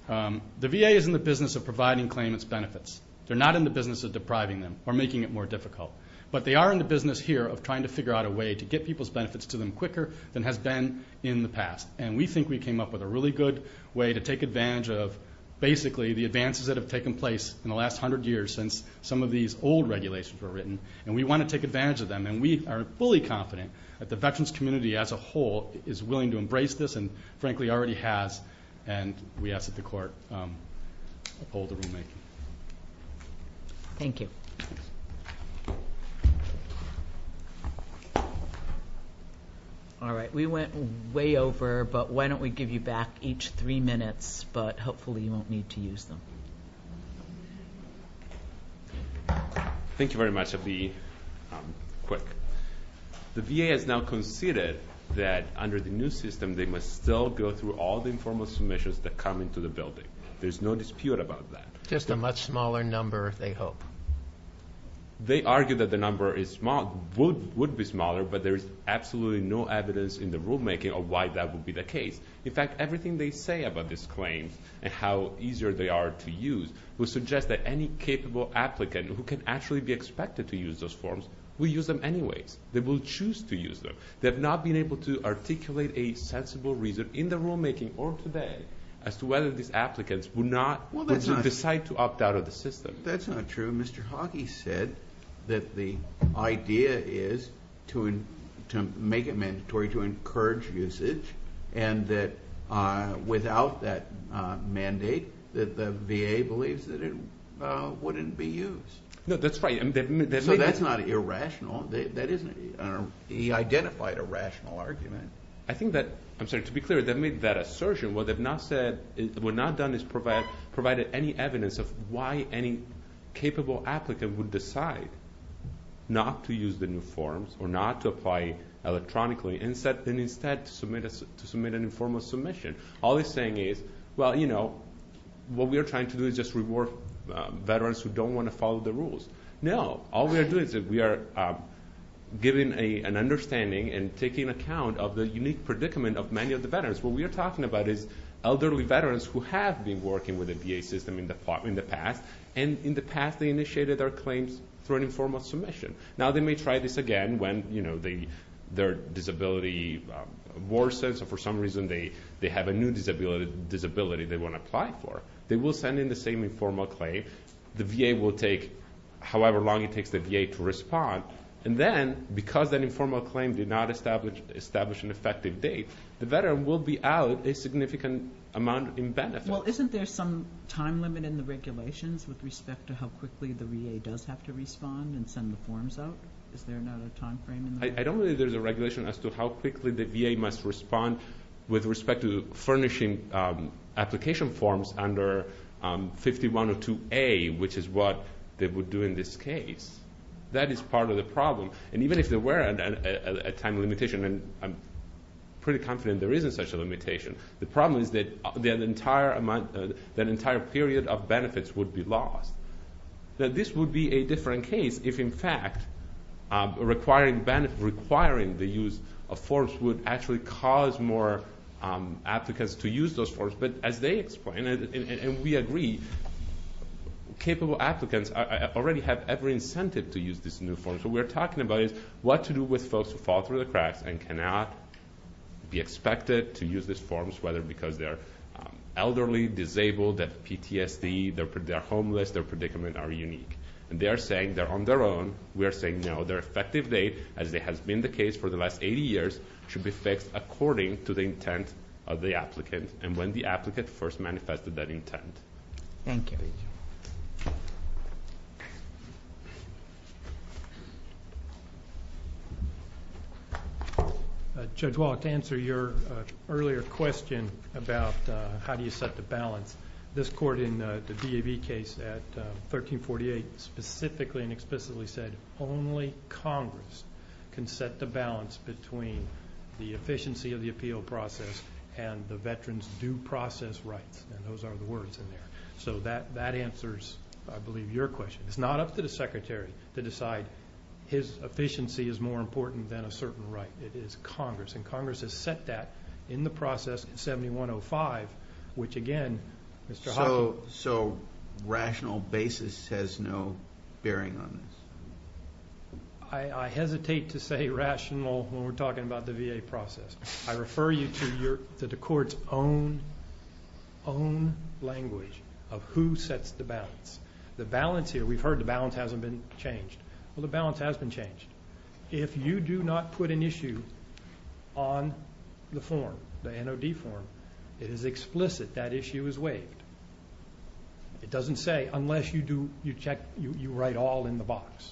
The VA is in the business of providing claimants benefits. They're not in the business of depriving them or making it more difficult. But they are in the business here of trying to figure out a way to get people's benefits to them quicker than has been in the past. And we think we came up with a really good way to take advantage of, basically, the advances that have taken place in the last hundred years since some of these old regulations were written. And we want to take advantage of them. And we are fully confident that the veterans community as a whole is willing to embrace this and, frankly, already has. And we ask that the Court uphold what we make. Thank you. All right. We went way over, but why don't we give you back each three minutes. But hopefully you won't need to use them. Thank you very much of the quick. The VA has now conceded that, under the new system, they must still go through all the informal submissions that come into the building. There's no dispute about that. Just a much smaller number, they hope. They argue that the number would be smaller, but there is absolutely no evidence in the rulemaking of why that would be the case. In fact, everything they say about this claim and how easier they are to use will suggest that any capable applicant who can actually be expected to use those forms will use them anyway. They will choose to use them. They have not been able to articulate a sensible reason in the rulemaking or today as to whether these applicants would decide to opt out of the system. That's not true. Mr. Hockey said that the idea is to make it mandatory to encourage usage and that without that mandate, the VA believes that it wouldn't be used. No, that's right. So that's not irrational. He identified a rational argument. To be clear, to make that assertion, what they've not done is provided any evidence of why any capable applicant would decide not to use the new forms or not to apply electronically and instead to submit an informal submission. All they're saying is, well, you know, what we are trying to do is just reward veterans who don't want to follow the rules. No, all we are doing is we are giving an understanding and taking account of the unique predicament of many of the veterans. What we are talking about is elderly veterans who have been working with the VA system in the past and in the past they initiated their claims for an informal submission. Now they may try this again when their disability worsens or for some reason they have a new disability they want to apply for. They will send in the same informal claim. The VA will take however long it takes the VA to respond. And then because that informal claim did not establish an effective date, the veteran will be out a significant amount in benefit. Well, isn't there some time limit in the regulations with respect to how quickly the VA does have to respond and send the forms out? Is there another time frame? I don't believe there's a regulation as to how quickly the VA must respond with respect to furnishing application forms under 51 or 2A, which is what they would do in this case. That is part of the problem. And even if there were a time limitation, and I'm pretty confident there isn't such a limitation, the problem is that an entire period of benefits would be lost. This would be a different case if, in fact, requiring the use of forms would actually cause more applicants to use those forms. But as they explain, and we agree, capable applicants already have every incentive to use these new forms. So we're talking about what to do with those who fall through the cracks and cannot be expected to use these forms, whether because they're elderly, disabled, that's PTSD, they're homeless, their predicaments are unique. And they are saying they're on their own. We are saying, no, their expected date, as has been the case for the last 80 years, should be fixed according to the intent of the applicant and when the applicant first manifested that intent. Thank you. Judge Wallace, to answer your earlier question about how do you set the balance, this court in the DAB case at 1348 specifically and explicitly said, only Congress can set the balance between the efficiency of the appeal process and the veterans' due process right. And those are the words in there. So that answers, I believe, your question. It's not up to the Secretary to decide his efficiency is more important than a certain right. It is Congress. And Congress has set that in the process in 7105, which, again, Mr. Hoffman. So rational basis has no bearing on this. I hesitate to say rational when we're talking about the VA process. I refer you to the court's own language of who sets the balance. The balance here, we've heard the balance hasn't been changed. Well, the balance has been changed. If you do not put an issue on the form, the NOD form, it is explicit that issue is waived. It doesn't say unless you do, you check, you write all in the box.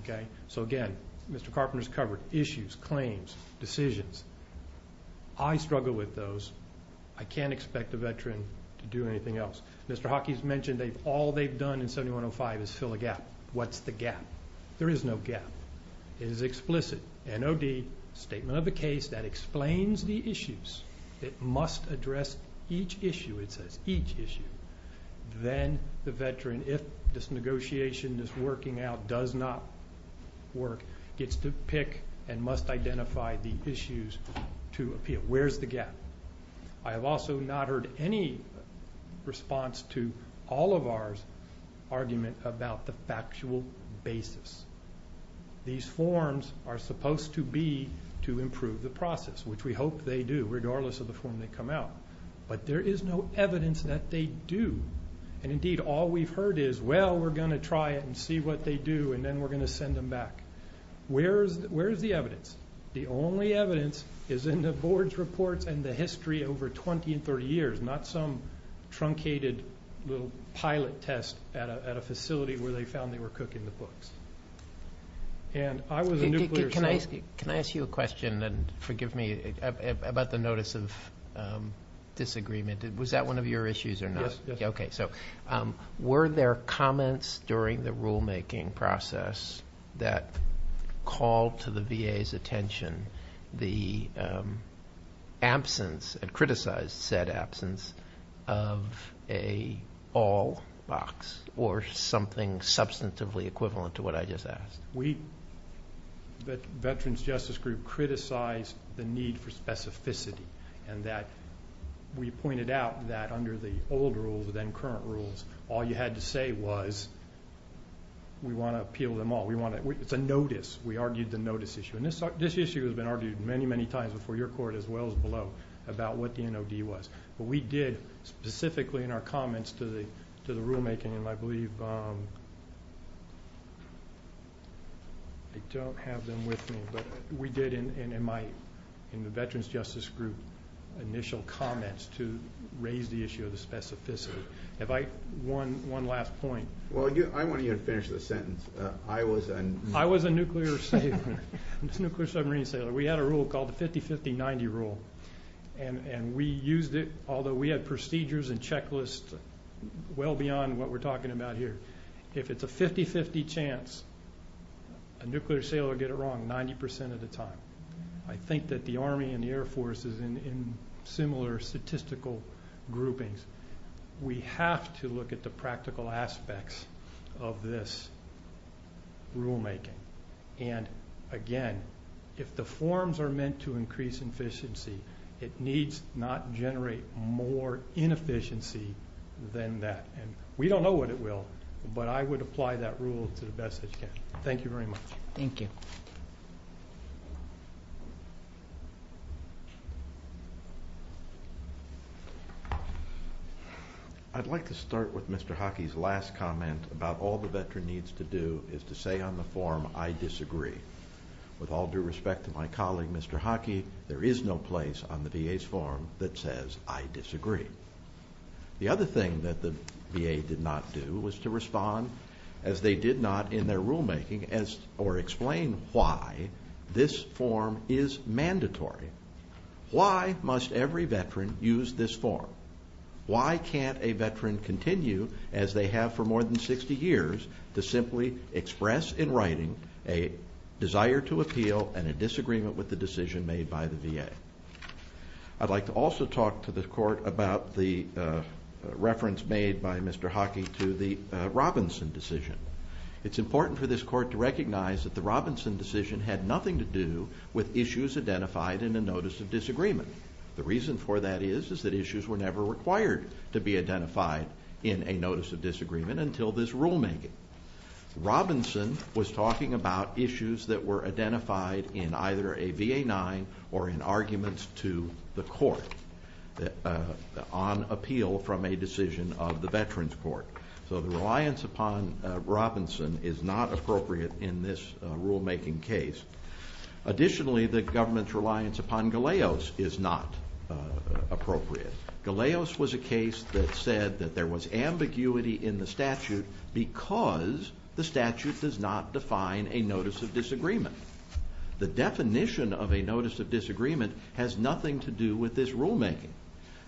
Okay. So, again, Mr. Carpenter's covered issues, claims, decisions. I struggle with those. I can't expect the veteran to do anything else. Mr. Hockey's mentioned that all they've done in 7105 is fill a gap. What's the gap? There is no gap. It is explicit. NOD, statement of the case, that explains the issues. It must address each issue, it says, each issue. Then the veteran, if this negotiation, this working out does not work, gets to pick and must identify the issues to appeal. Where's the gap? I have also not heard any response to all of our argument about the factual basis. These forms are supposed to be to improve the process, which we hope they do, regardless of the form they come out. But there is no evidence that they do. And, indeed, all we've heard is, well, we're going to try it and see what they do, and then we're going to send them back. Where is the evidence? The only evidence is in the board's reports and the history over 20 and 30 years, not some truncated little pilot test at a facility where they found they were cooking the books. Can I ask you a question, and forgive me, about the notice of disagreement? Was that one of your issues or not? Yes. Okay, so were there comments during the rulemaking process that called to the VA's attention the absence and criticized said absence of an all box or something substantively equivalent to what I just asked? The Veterans Justice Group criticized the need for specificity and that we pointed out that under the old rules and current rules, all you had to say was we want to appeal them all. It's a notice. We argued the notice issue. And this issue has been argued many, many times before your court as well as below about what the NOD was. But we did specifically in our comments to the rulemaking, and I believe I don't have them with me, but we did in the Veterans Justice Group initial comments to raise the issue of the specificity. One last point. Well, I want you to finish the sentence. I was a nuclear submarine sailor. We had a rule called the 50-50-90 rule, and we used it although we had procedures and checklists well beyond what we're talking about here. If it's a 50-50 chance, a nuclear sailor will get it wrong 90% of the time. I think that the Army and the Air Force is in similar statistical groupings. We have to look at the practical aspects of this rulemaking. And, again, if the forms are meant to increase efficiency, it needs not generate more inefficiency than that. We don't know what it will, but I would apply that rule to the best it can. Thank you very much. Thank you. I'd like to start with Mr. Hockey's last comment about all the Veteran needs to do is to say on the form, I disagree. With all due respect to my colleague, Mr. Hockey, there is no place on the VA's form that says, I disagree. The other thing that the VA did not do was to respond, as they did not in their rulemaking, or explain why this form is mandatory. Why must every Veteran use this form? Why can't a Veteran continue, as they have for more than 60 years, to simply express in writing a desire to appeal and a disagreement with the decision made by the VA? I'd like to also talk to the Court about the reference made by Mr. Hockey to the Robinson decision. It's important for this Court to recognize that the Robinson decision had nothing to do with issues identified in the Notice of Disagreement. The reason for that is that issues were never required to be identified in a Notice of Disagreement until this rulemaking. Robinson was talking about issues that were identified in either a VA-9 or in arguments to the Court on appeal from a decision of the Veterans Court. So the reliance upon Robinson is not appropriate in this rulemaking case. Additionally, the government's reliance upon Galeos is not appropriate. Galeos was a case that said that there was ambiguity in the statute because the statute does not define a Notice of Disagreement. The definition of a Notice of Disagreement has nothing to do with this rulemaking.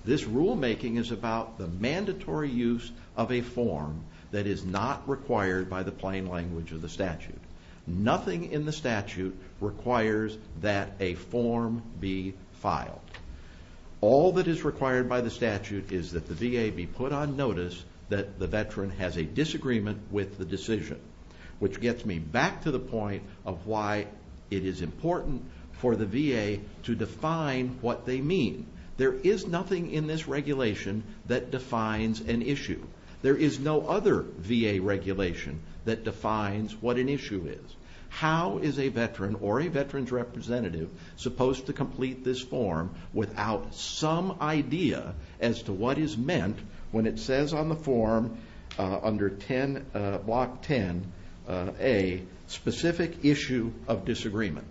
This rulemaking is about the mandatory use of a form that is not required by the plain language of the statute. Nothing in the statute requires that a form be filed. All that is required by the statute is that the VA be put on notice that the Veteran has a disagreement with the decision, which gets me back to the point of why it is important for the VA to define what they mean. There is nothing in this regulation that defines an issue. There is no other VA regulation that defines what an issue is. How is a Veteran or a Veterans representative supposed to complete this form without some idea as to what is meant when it says on the form under Block 10a, Specific Issue of Disagreement?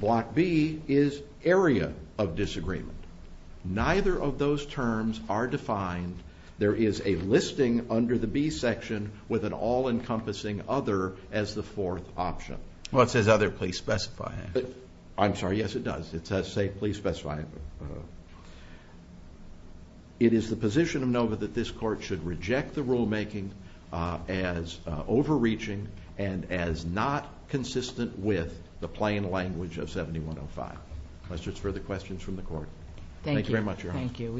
Block B is Area of Disagreement. Neither of those terms are defined. There is a listing under the B section with an all-encompassing other as the fourth option. Well, it says other, please specify it. I'm sorry, yes, it does. It says, please specify it. It is the position of NOVA that this Court should reject the rulemaking as overreaching and as not consistent with the plain language of 7105. Those are just further questions from the Court. Thank you very much, Your Honor. Thank you.